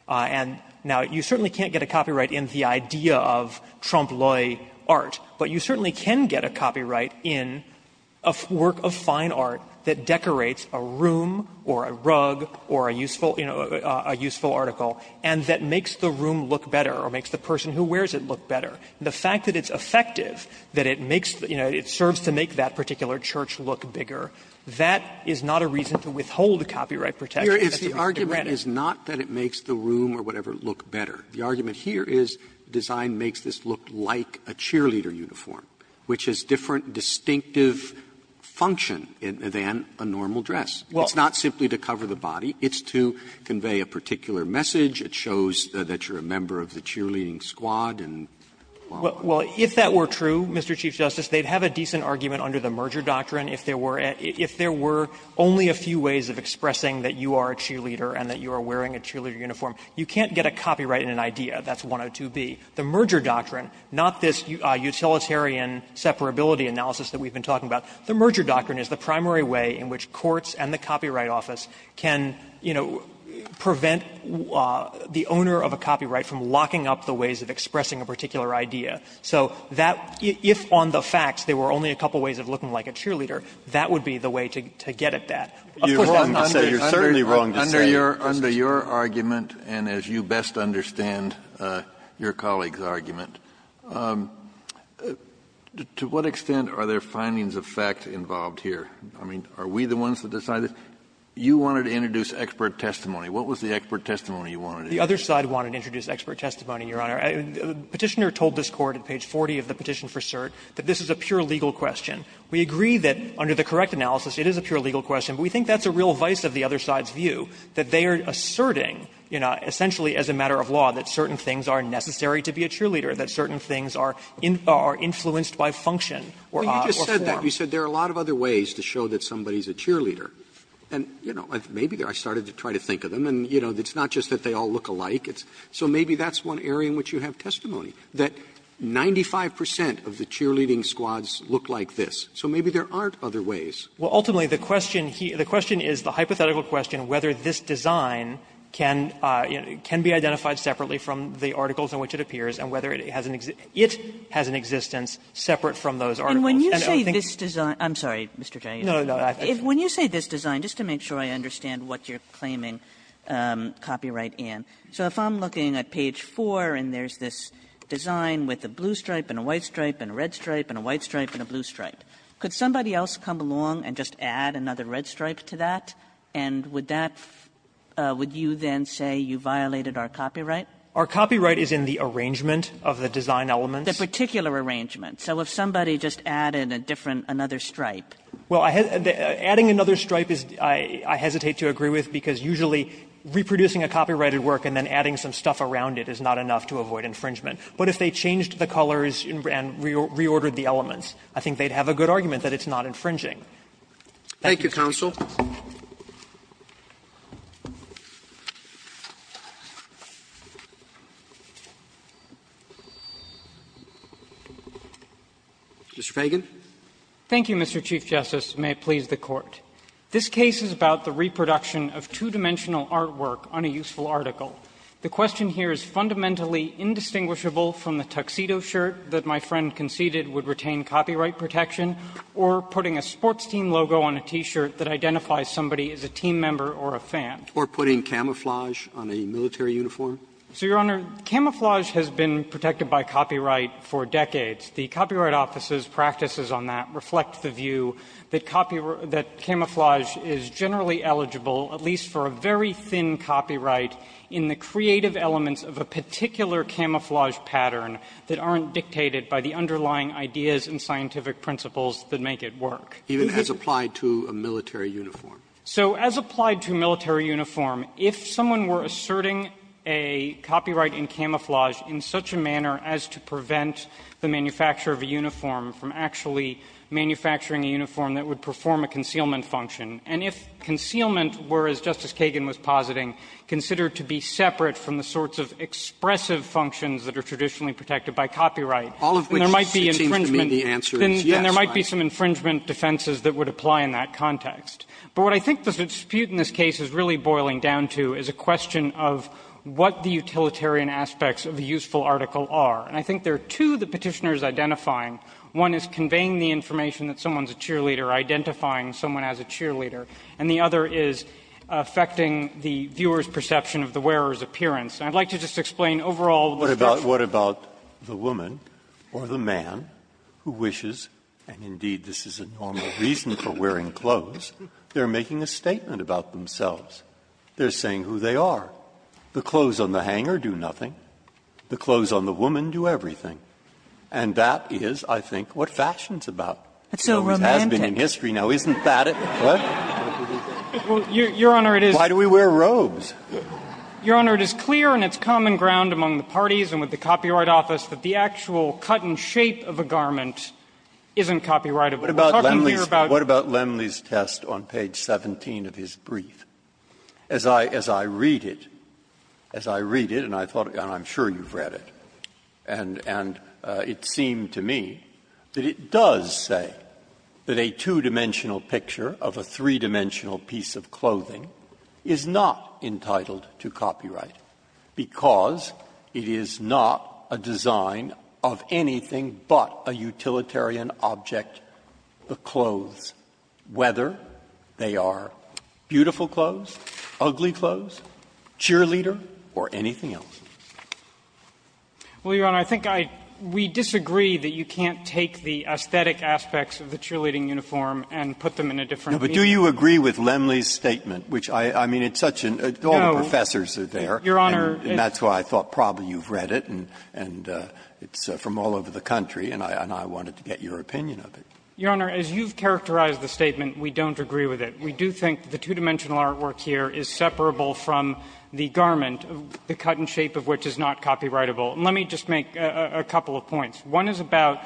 And now, you certainly can't get a copyright in the idea of trompe l'oeil art, but you certainly can get a copyright in a work of fine art that decorates a room or a rug or a useful – you know, a useful article, and that makes the room look better or makes the person who wears it look better. And the fact that it's effective, that it makes – you know, it serves to make that particular church look bigger, that is not a reason to withhold copyright protection. That's a reason to grant it. Roberts, the argument is not that it makes the room or whatever look better. The argument here is design makes this look like a cheerleader uniform, which has different distinctive function than a normal dress. It's not simply to cover the body. It's to convey a particular message. It shows that you're a member of the cheerleading squad and so on. Well, if that were true, Mr. Chief Justice, they'd have a decent argument under the merger doctrine if there were – if there were only a few ways of expressing that you are a cheerleader and that you are wearing a cheerleader uniform. You can't get a copyright in an idea. That's 102B. The merger doctrine, not this utilitarian separability analysis that we've been talking about, the merger doctrine is the primary way in which courts and the Copyright Office can, you know, prevent the owner of a copyright from locking up the ways of expressing a particular idea. So that – if on the facts there were only a couple ways of looking like a cheerleader, that would be the way to get at that. Of course, that's not the case. Kennedy, you're certainly wrong to say. Kennedy, under your argument and as you best understand your colleague's argument, to what extent are there findings of fact involved here? I mean, are we the ones that decide this? You wanted to introduce expert testimony. What was the expert testimony you wanted? The other side wanted to introduce expert testimony, Your Honor. The Petitioner told this Court at page 40 of the petition for cert that this is a pure legal question. We agree that under the correct analysis it is a pure legal question, but we think that's a real vice of the other side's view, that they are asserting, you know, essentially as a matter of law, that certain things are necessary to be a cheerleader, that certain things are influenced by function or form. Roberts, You just said that. You said there are a lot of other ways to show that somebody is a cheerleader. And, you know, maybe I started to try to think of them, and, you know, it's not just that they all look alike. So maybe that's one area in which you have testimony, that 95 percent of the cheerleading squads look like this. So maybe there aren't other ways. Well, ultimately, the question is the hypothetical question whether this design can be identified separately from the articles in which it appears and whether it has an existence separate from those articles. And I think this design And when you say this design, I'm sorry, Mr. Kennedy. When you say this design, just to make sure I understand what you're claiming copyright in, so if I'm looking at page 4 and there's this design with a blue stripe and a white stripe and a red stripe and a white stripe and a blue stripe, could somebody else come along and just add another red stripe to that, and would that you then say you violated our copyright? Our copyright is in the arrangement of the design elements. The particular arrangement. So if somebody just added a different, another stripe. Well, adding another stripe is, I hesitate to agree with, because usually reproducing a copyrighted work and then adding some stuff around it is not enough to avoid infringement. But if they changed the colors and reordered the elements, I think they'd have a good argument that it's not infringing. Thank you. Roberts. Thank you, counsel. Mr. Feigin. Feigin. Thank you, Mr. Chief Justice, and may it please the Court. This case is about the reproduction of two-dimensional artwork on a useful article. The question here is fundamentally indistinguishable from the tuxedo shirt that my friend conceded would retain copyright protection, or putting a sports team logo on a T-shirt that identifies somebody as a team member or a fan. Or putting camouflage on a military uniform. So, Your Honor, camouflage has been protected by copyright for decades. The Copyright Office's practices on that reflect the view that copyright or that camouflage is generally eligible, at least for a very thin copyright, in the creative elements of a particular camouflage pattern that aren't dictated by the underlying ideas and scientific principles that make it work. Even as applied to a military uniform? So as applied to a military uniform, if someone were asserting a copyright in camouflage in such a manner as to prevent the manufacturer of a uniform from actually manufacturing a uniform that would perform a concealment function, and if concealment were, as Justice Kagan was positing, considered to be separate from the sorts of expressive functions that are traditionally protected by copyright, then there might be infringement defenses that would apply in that context. But what I think the dispute in this case is really boiling down to is a question of what the utilitarian aspects of a useful article are. And I think there are two the Petitioner is identifying. One is conveying the information that someone is a cheerleader, identifying someone as a cheerleader. And the other is affecting the viewer's perception of the wearer's appearance. And I'd like to just explain overall the description. Breyer, What about the woman or the man who wishes, and indeed this is a normal reason for wearing clothes, they're making a statement about themselves? They're saying who they are. The clothes on the hanger do nothing. The clothes on the woman do everything. And that is, I think, what fashion is about. Kagan, It's so romantic. Breyer, It has been in history now, isn't that it? Breyer, Well, Your Honor, it is. Breyer, Why do we wear robes? Breyer, Your Honor, it is clear in its common ground among the parties and with the Copyright Office that the actual cut and shape of a garment isn't copyrightable. Breyer, What about Lemley's test on page 17 of his brief? As I read it, as I read it, and I thought, and I'm sure you've read it, and it seemed to me that it does say that a two-dimensional picture of a three-dimensional piece of clothing is not entitled to copyright, because it is not a design of anything but a utilitarian object, the clothes, whether they are beautiful clothes, ugly clothes, cheerleader, or anything else. Kagan, Well, Your Honor, I think I we disagree that you can't take the aesthetic aspects of the cheerleading uniform and put them in a different view. Breyer, But do you agree with Lemley's statement, which I mean, it's such a, all the professors are there, and that's why I thought probably you've read it, and it's from all over the country, and I wanted to get your opinion of it. Kagan, Your Honor, as you've characterized the statement, we don't agree with it. We do think the two-dimensional artwork here is separable from the garment, the cut shape of which is not copyrightable. And let me just make a couple of points. One is about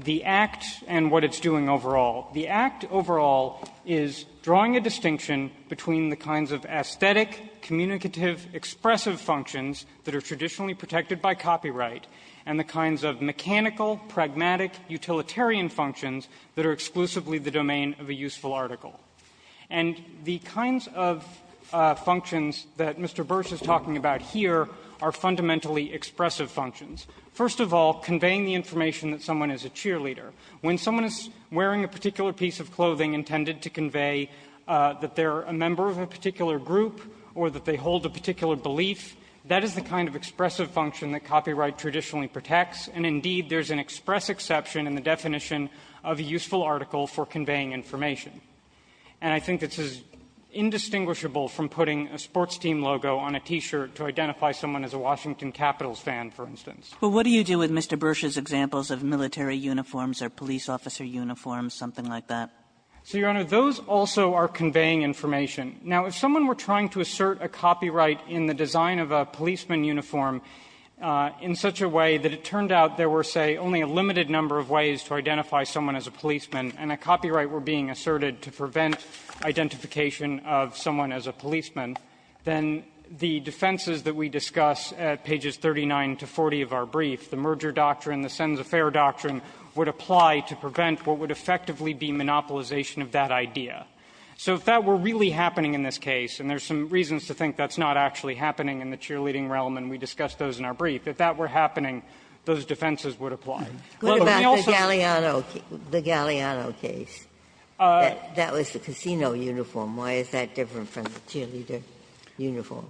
the Act and what it's doing overall. The Act overall is drawing a distinction between the kinds of aesthetic, communicative, expressive functions that are traditionally protected by copyright, and the kinds of mechanical, pragmatic, utilitarian functions that are exclusively the domain of a useful article. And the kinds of functions that Mr. Burse is talking about here are fundamentally expressive functions. First of all, conveying the information that someone is a cheerleader. When someone is wearing a particular piece of clothing intended to convey that they're a member of a particular group or that they hold a particular belief, that is the kind of expressive function that copyright traditionally protects, and indeed, there's an express exception in the definition of a useful article for conveying information. And I think this is indistinguishable from putting a sports team logo on a T-shirt to identify someone as a Washington Capitals fan, for instance. Kagan. But what do you do with Mr. Burse's examples of military uniforms or police officer uniforms, something like that? So, Your Honor, those also are conveying information. Now, if someone were trying to assert a copyright in the design of a policeman uniform in such a way that it turned out there were, say, only a limited number of ways to identify someone as a policeman and a copyright were being asserted to prevent identification of someone as a policeman, then the defenses that we discuss at pages 39 to 40 of our brief, the merger doctrine, the sense of fair doctrine, would apply to prevent what would effectively be monopolization of that idea. So if that were really happening in this case, and there's some reasons to think that's not actually happening in the cheerleading realm and we discussed those in our brief, if that were happening, those defenses would apply. Well, but we also say the Galliano case, that was the casino uniform. Why is that different from the cheerleader uniform?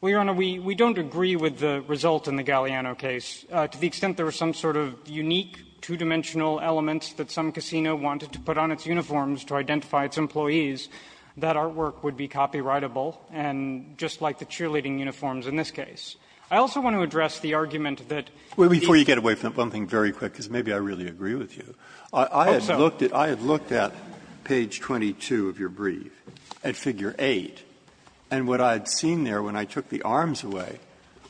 Well, Your Honor, we don't agree with the result in the Galliano case. To the extent there was some sort of unique, two-dimensional element that some casino wanted to put on its uniforms to identify its employees, that artwork would be copyrightable, and just like the cheerleading uniforms in this case. I also want to address the argument that the defense would be a copyrighted I had looked at page 22 of your brief at figure 8, and what I'd seen there when I took the arms away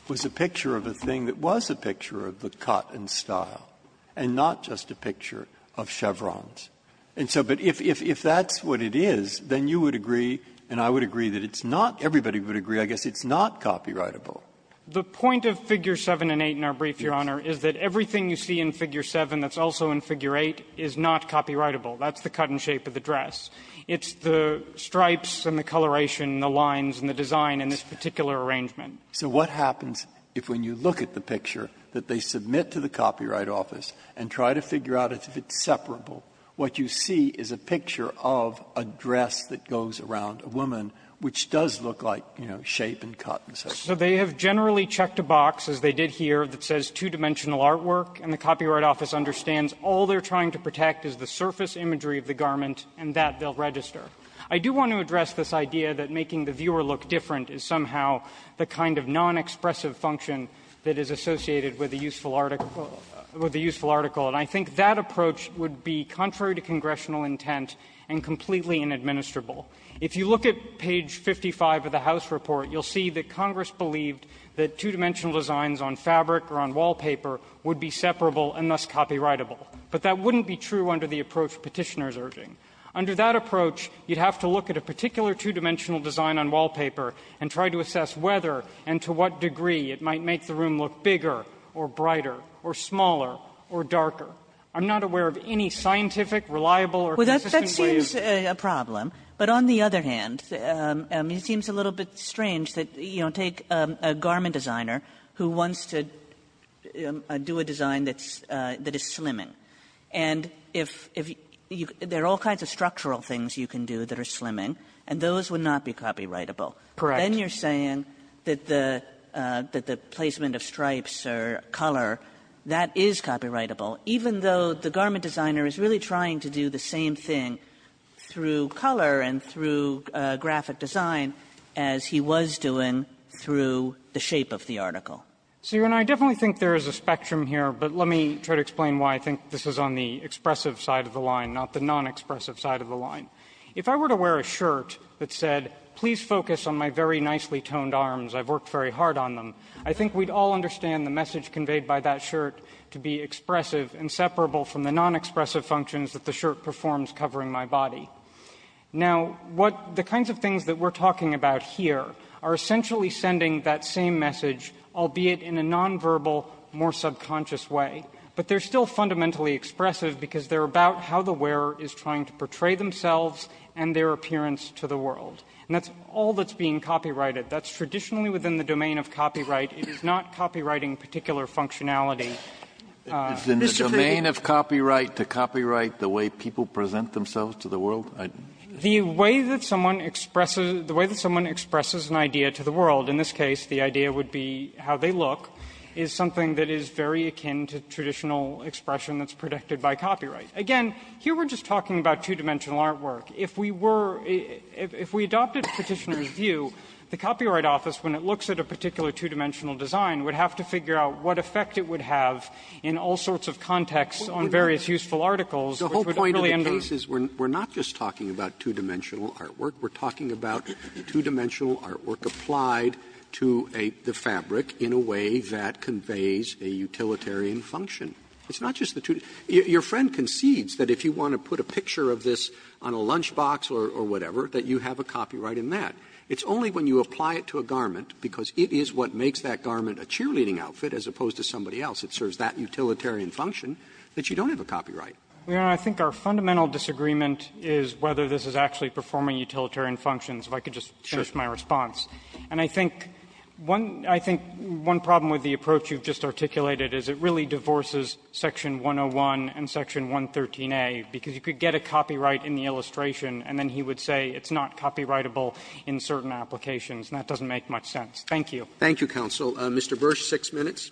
was a picture of a thing that was a picture of the cut and style, and not just a picture of chevrons. And so, but if that's what it is, then you would agree and I would agree that it's not, everybody would agree, I guess it's not copyrightable. The point of figure 7 and 8 in our brief, Your Honor, is that everything you see in figure 7 that's also in figure 8 is not copyrightable. That's the cut and shape of the dress. It's the stripes and the coloration and the lines and the design in this particular arrangement. So what happens if when you look at the picture that they submit to the Copyright Office and try to figure out if it's separable, what you see is a picture of a dress that goes around a woman, which does look like, you know, shape and cut and such? So they have generally checked a box, as they did here, that says two-dimensional artwork, and the Copyright Office understands all they're trying to protect is the surface imagery of the garment, and that they'll register. I do want to address this idea that making the viewer look different is somehow the kind of non-expressive function that is associated with a useful article. And I think that approach would be contrary to congressional intent and completely inadministrable. If you look at page 55 of the House report, you'll see that Congress believed that two-dimensional designs on fabric or on wallpaper would be separable and thus copyrightable. But that wouldn't be true under the approach Petitioner is urging. Under that approach, you'd have to look at a particular two-dimensional design on wallpaper and try to assess whether and to what degree it might make the room look bigger or brighter or smaller or darker. I'm not aware of any scientific, reliable, or consistent way of doing that. Kagan. But, on the other hand, it seems a little bit strange that, you know, take a garment designer who wants to do a design that's – that is slimming, and if you – there are all kinds of structural things you can do that are slimming, and those would not be copyrightable. Correct. Then you're saying that the placement of stripes or color, that is copyrightable, even though the garment designer is really trying to do the same thing through color and through graphic design as he was doing through the shape of the article. So, Your Honor, I definitely think there is a spectrum here, but let me try to explain why I think this is on the expressive side of the line, not the non-expressive side of the line. If I were to wear a shirt that said, please focus on my very nicely toned arms, I've worked very hard on them, I think we'd all understand the message conveyed by that shirt to be expressive and separable from the non-expressive functions that the shirt performs covering my body. Now, what – the kinds of things that we're talking about here are essentially sending that same message, albeit in a non-verbal, more subconscious way, but they're still fundamentally expressive because they're about how the wearer is trying to portray themselves and their appearance to the world. And that's all that's being copyrighted. That's traditionally within the domain of copyright. It is not copyrighting particular functionality. Sotomayor, it's in the domain of copyright to copyright the way people present themselves to the world? The way that someone expresses – the way that someone expresses an idea to the world, in this case, the idea would be how they look, is something that is very akin to traditional expression that's protected by copyright. Again, here we're just talking about two-dimensional artwork. If we were – if we adopted Petitioner's view, the Copyright Office, when it looks at a particular two-dimensional design, would have to figure out what effect it would have in all sorts of contexts on various useful articles, which would really impose – Roberts The whole point of the case is we're not just talking about two-dimensional artwork. We're talking about two-dimensional artwork applied to a – the fabric in a way that conveys a utilitarian function. It's not just the two – your friend concedes that if you want to put a picture of this on a lunchbox or whatever, that you have a copyright in that. It's only when you apply it to a garment, because it is what makes that garment a cheerleading outfit as opposed to somebody else, it serves that utilitarian function, that you don't have a copyright. Feigin. And I think our fundamental disagreement is whether this is actually performing utilitarian functions, if I could just finish my response. And I think one – I think one problem with the approach you've just articulated is it really divorces Section 101 and Section 113a, because you could get a copy right in the illustration, and then he would say it's not copyrightable in certain applications, and that doesn't make much sense. Thank you. Roberts Thank you, counsel. Mr. Bursch, six minutes. Bursch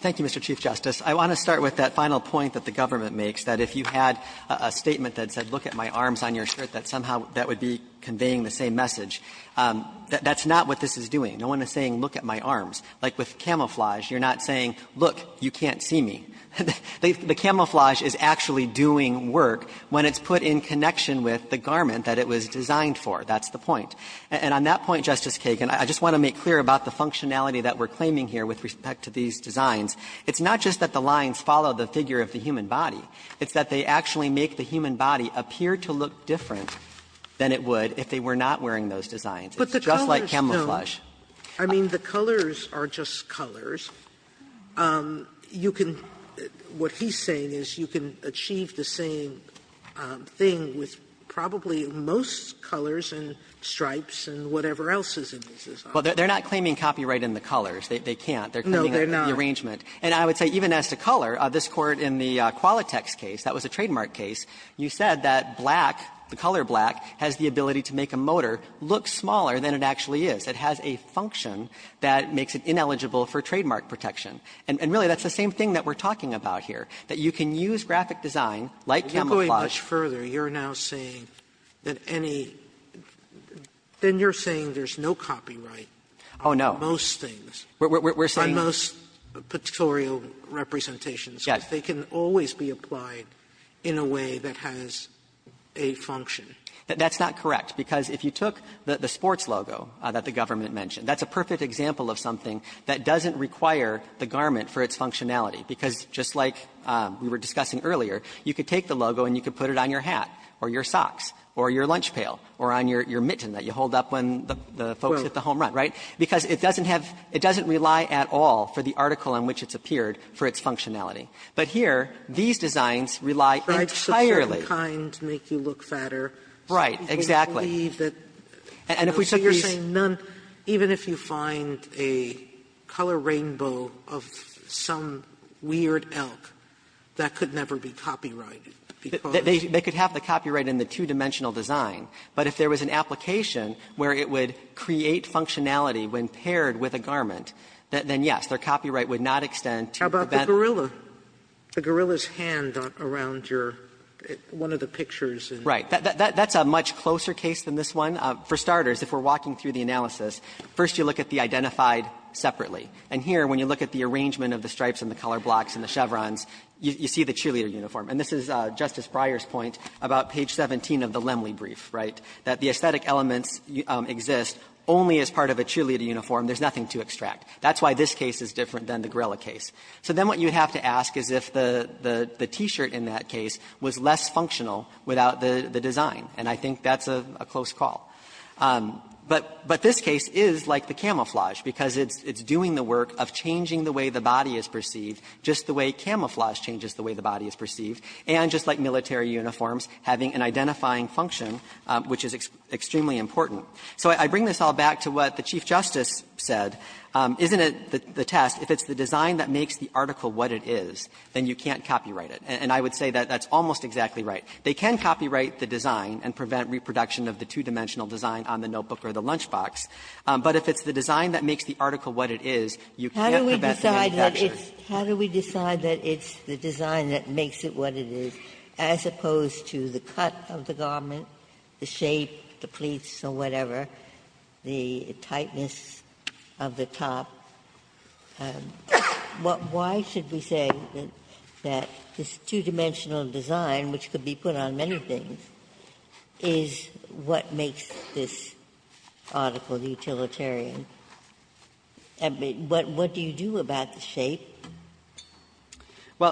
Thank you, Mr. Chief Justice. I want to start with that final point that the government makes, that if you had a statement that said, look at my arms on your shirt, that somehow that would be conveying That's not what this is doing. No one is saying, look at my arms. Like with camouflage, you're not saying, look, you can't see me. The camouflage is actually doing work when it's put in connection with the garment that it was designed for. That's the point. And on that point, Justice Kagan, I just want to make clear about the functionality that we're claiming here with respect to these designs. It's not just that the lines follow the figure of the human body. It's that they actually make the human body appear to look different than it would if they were not wearing those designs. It's just like camouflage. Sotomayor I mean, the colors are just colors. You can what he's saying is you can achieve the same thing with probably most colors and stripes and whatever else is in these designs. Bursch Well, they're not claiming copyright in the colors. They can't. They're claiming the arrangement. And I would say even as to color, this Court in the Qualitex case, that was a trademark case, you said that black, the color black, has the ability to make a motor look smaller than it actually is. It has a function that makes it ineligible for trademark protection. And really, that's the same thing that we're talking about here, that you can use Sotomayor If you're going much further, you're now saying that any – then you're saying there's no copyright on most things. Oh, no. We're saying – Sotomayor On most pictorial representations. Bursch Yes. Sotomayor They can always be applied in a way that has a function. Bursch That's not correct, because if you took the sports logo that the government mentioned, that's a perfect example of something that doesn't require the garment for its functionality, because just like we were discussing earlier, you could take the logo and you could put it on your hat or your socks or your lunch pail or on your mitten that you hold up when the folks hit the home run, right? Because it doesn't have – it doesn't rely at all for the article in which it's appeared for its functionality. But here, these designs rely entirely on the fact that certain kinds make you look fatter. Bursch Right, exactly. Sotomayor So you're saying none – even if you find a color rainbow of some weird elk, that could never be copyrighted, because – Bursch They could have the copyright in the two-dimensional design, but if there was an application where it would create functionality when paired with a garment, then, yes, their copyright would not extend to prevent – Sotomayor One of the pictures in the – Bursch Right. That's a much closer case than this one. For starters, if we're walking through the analysis, first you look at the identified separately. And here, when you look at the arrangement of the stripes and the color blocks and the chevrons, you see the cheerleader uniform. And this is Justice Breyer's point about page 17 of the Lemley brief, right, that the aesthetic elements exist only as part of a cheerleader uniform. There's nothing to extract. That's why this case is different than the Gorilla case. So then what you have to ask is if the T-shirt in that case was less functional without the design. And I think that's a close call. But this case is like the camouflage, because it's doing the work of changing the way the body is perceived, just the way camouflage changes the way the body is perceived, and just like military uniforms, having an identifying function, which is extremely important. So I bring this all back to what the Chief Justice said. Isn't it the test, if it's the design that makes the article what it is, then you can't copyright it. And I would say that that's almost exactly right. They can copyright the design and prevent reproduction of the two-dimensional design on the notebook or the lunchbox. But if it's the design that makes the article what it is, you can't prevent the same texture. Ginsburg. How do we decide that it's the design that makes it what it is, as opposed to the cut of the garment, the shape, the pleats or whatever, the tightness of the top? Why should we say that this two-dimensional design, which could be put on many things, is what makes this article utilitarian? Well,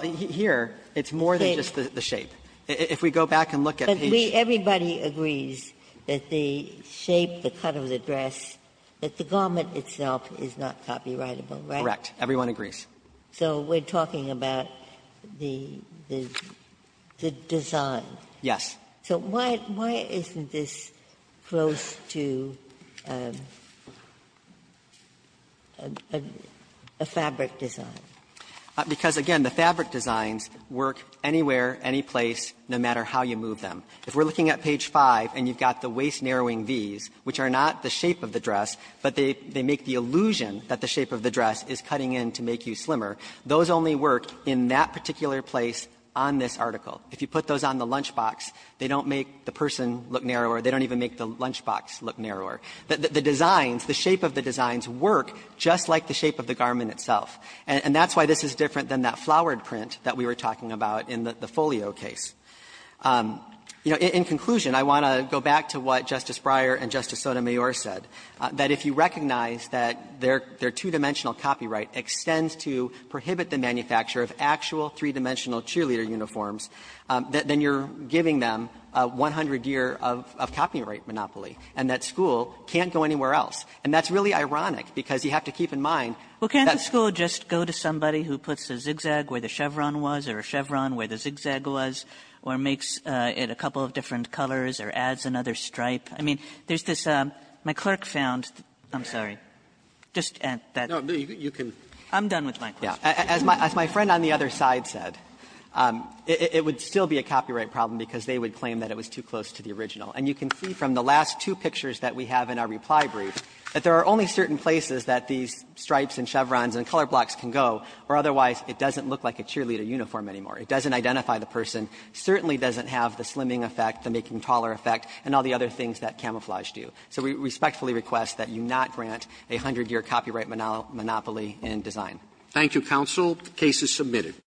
here, it's more than just the shape. If we go back and look at each of these. Ginsburg. But everybody agrees that the shape, the cut of the dress, that the garment itself is not copyrightable, right? Correct. Everyone agrees. So we're talking about the design. Yes. So why isn't this close to a fabric design? Because, again, the fabric designs work anywhere, anyplace, no matter how you move them. If we're looking at page 5 and you've got the waist-narrowing Vs, which are not the shape of the dress, but they make the illusion that the shape of the dress is cutting in to make you slimmer, those only work in that particular place on this article. If you put those on the lunchbox, they don't make the person look narrower. They don't even make the lunchbox look narrower. The designs, the shape of the designs work just like the shape of the garment itself. And that's why this is different than that flowered print that we were talking about in the Folio case. You know, in conclusion, I want to go back to what Justice Breyer and Justice Sotomayor said, that if you recognize that their two-dimensional copyright extends to prohibit the manufacture of actual three-dimensional cheerleader uniforms, then you're giving them a 100-year of copyright monopoly, and that school can't go anywhere else. And that's really ironic, because you have to keep in mind that the school just goes to somebody who puts a zigzag where the chevron was, or a chevron where the zigzag was, or makes it a couple of different colors, or adds another stripe. I mean, there's this my clerk found, I'm sorry, just add that. Roberts, you can. I'm done with my question. Yeah. As my friend on the other side said, it would still be a copyright problem because they would claim that it was too close to the original. And you can see from the last two pictures that we have in our reply brief that there are only certain places that these stripes and chevrons and color blocks can go, or otherwise it doesn't look like a cheerleader uniform anymore. It doesn't identify the person, certainly doesn't have the slimming effect, the making taller effect, and all the other things that camouflage do. So we respectfully request that you not grant a 100-year copyright monopoly in design.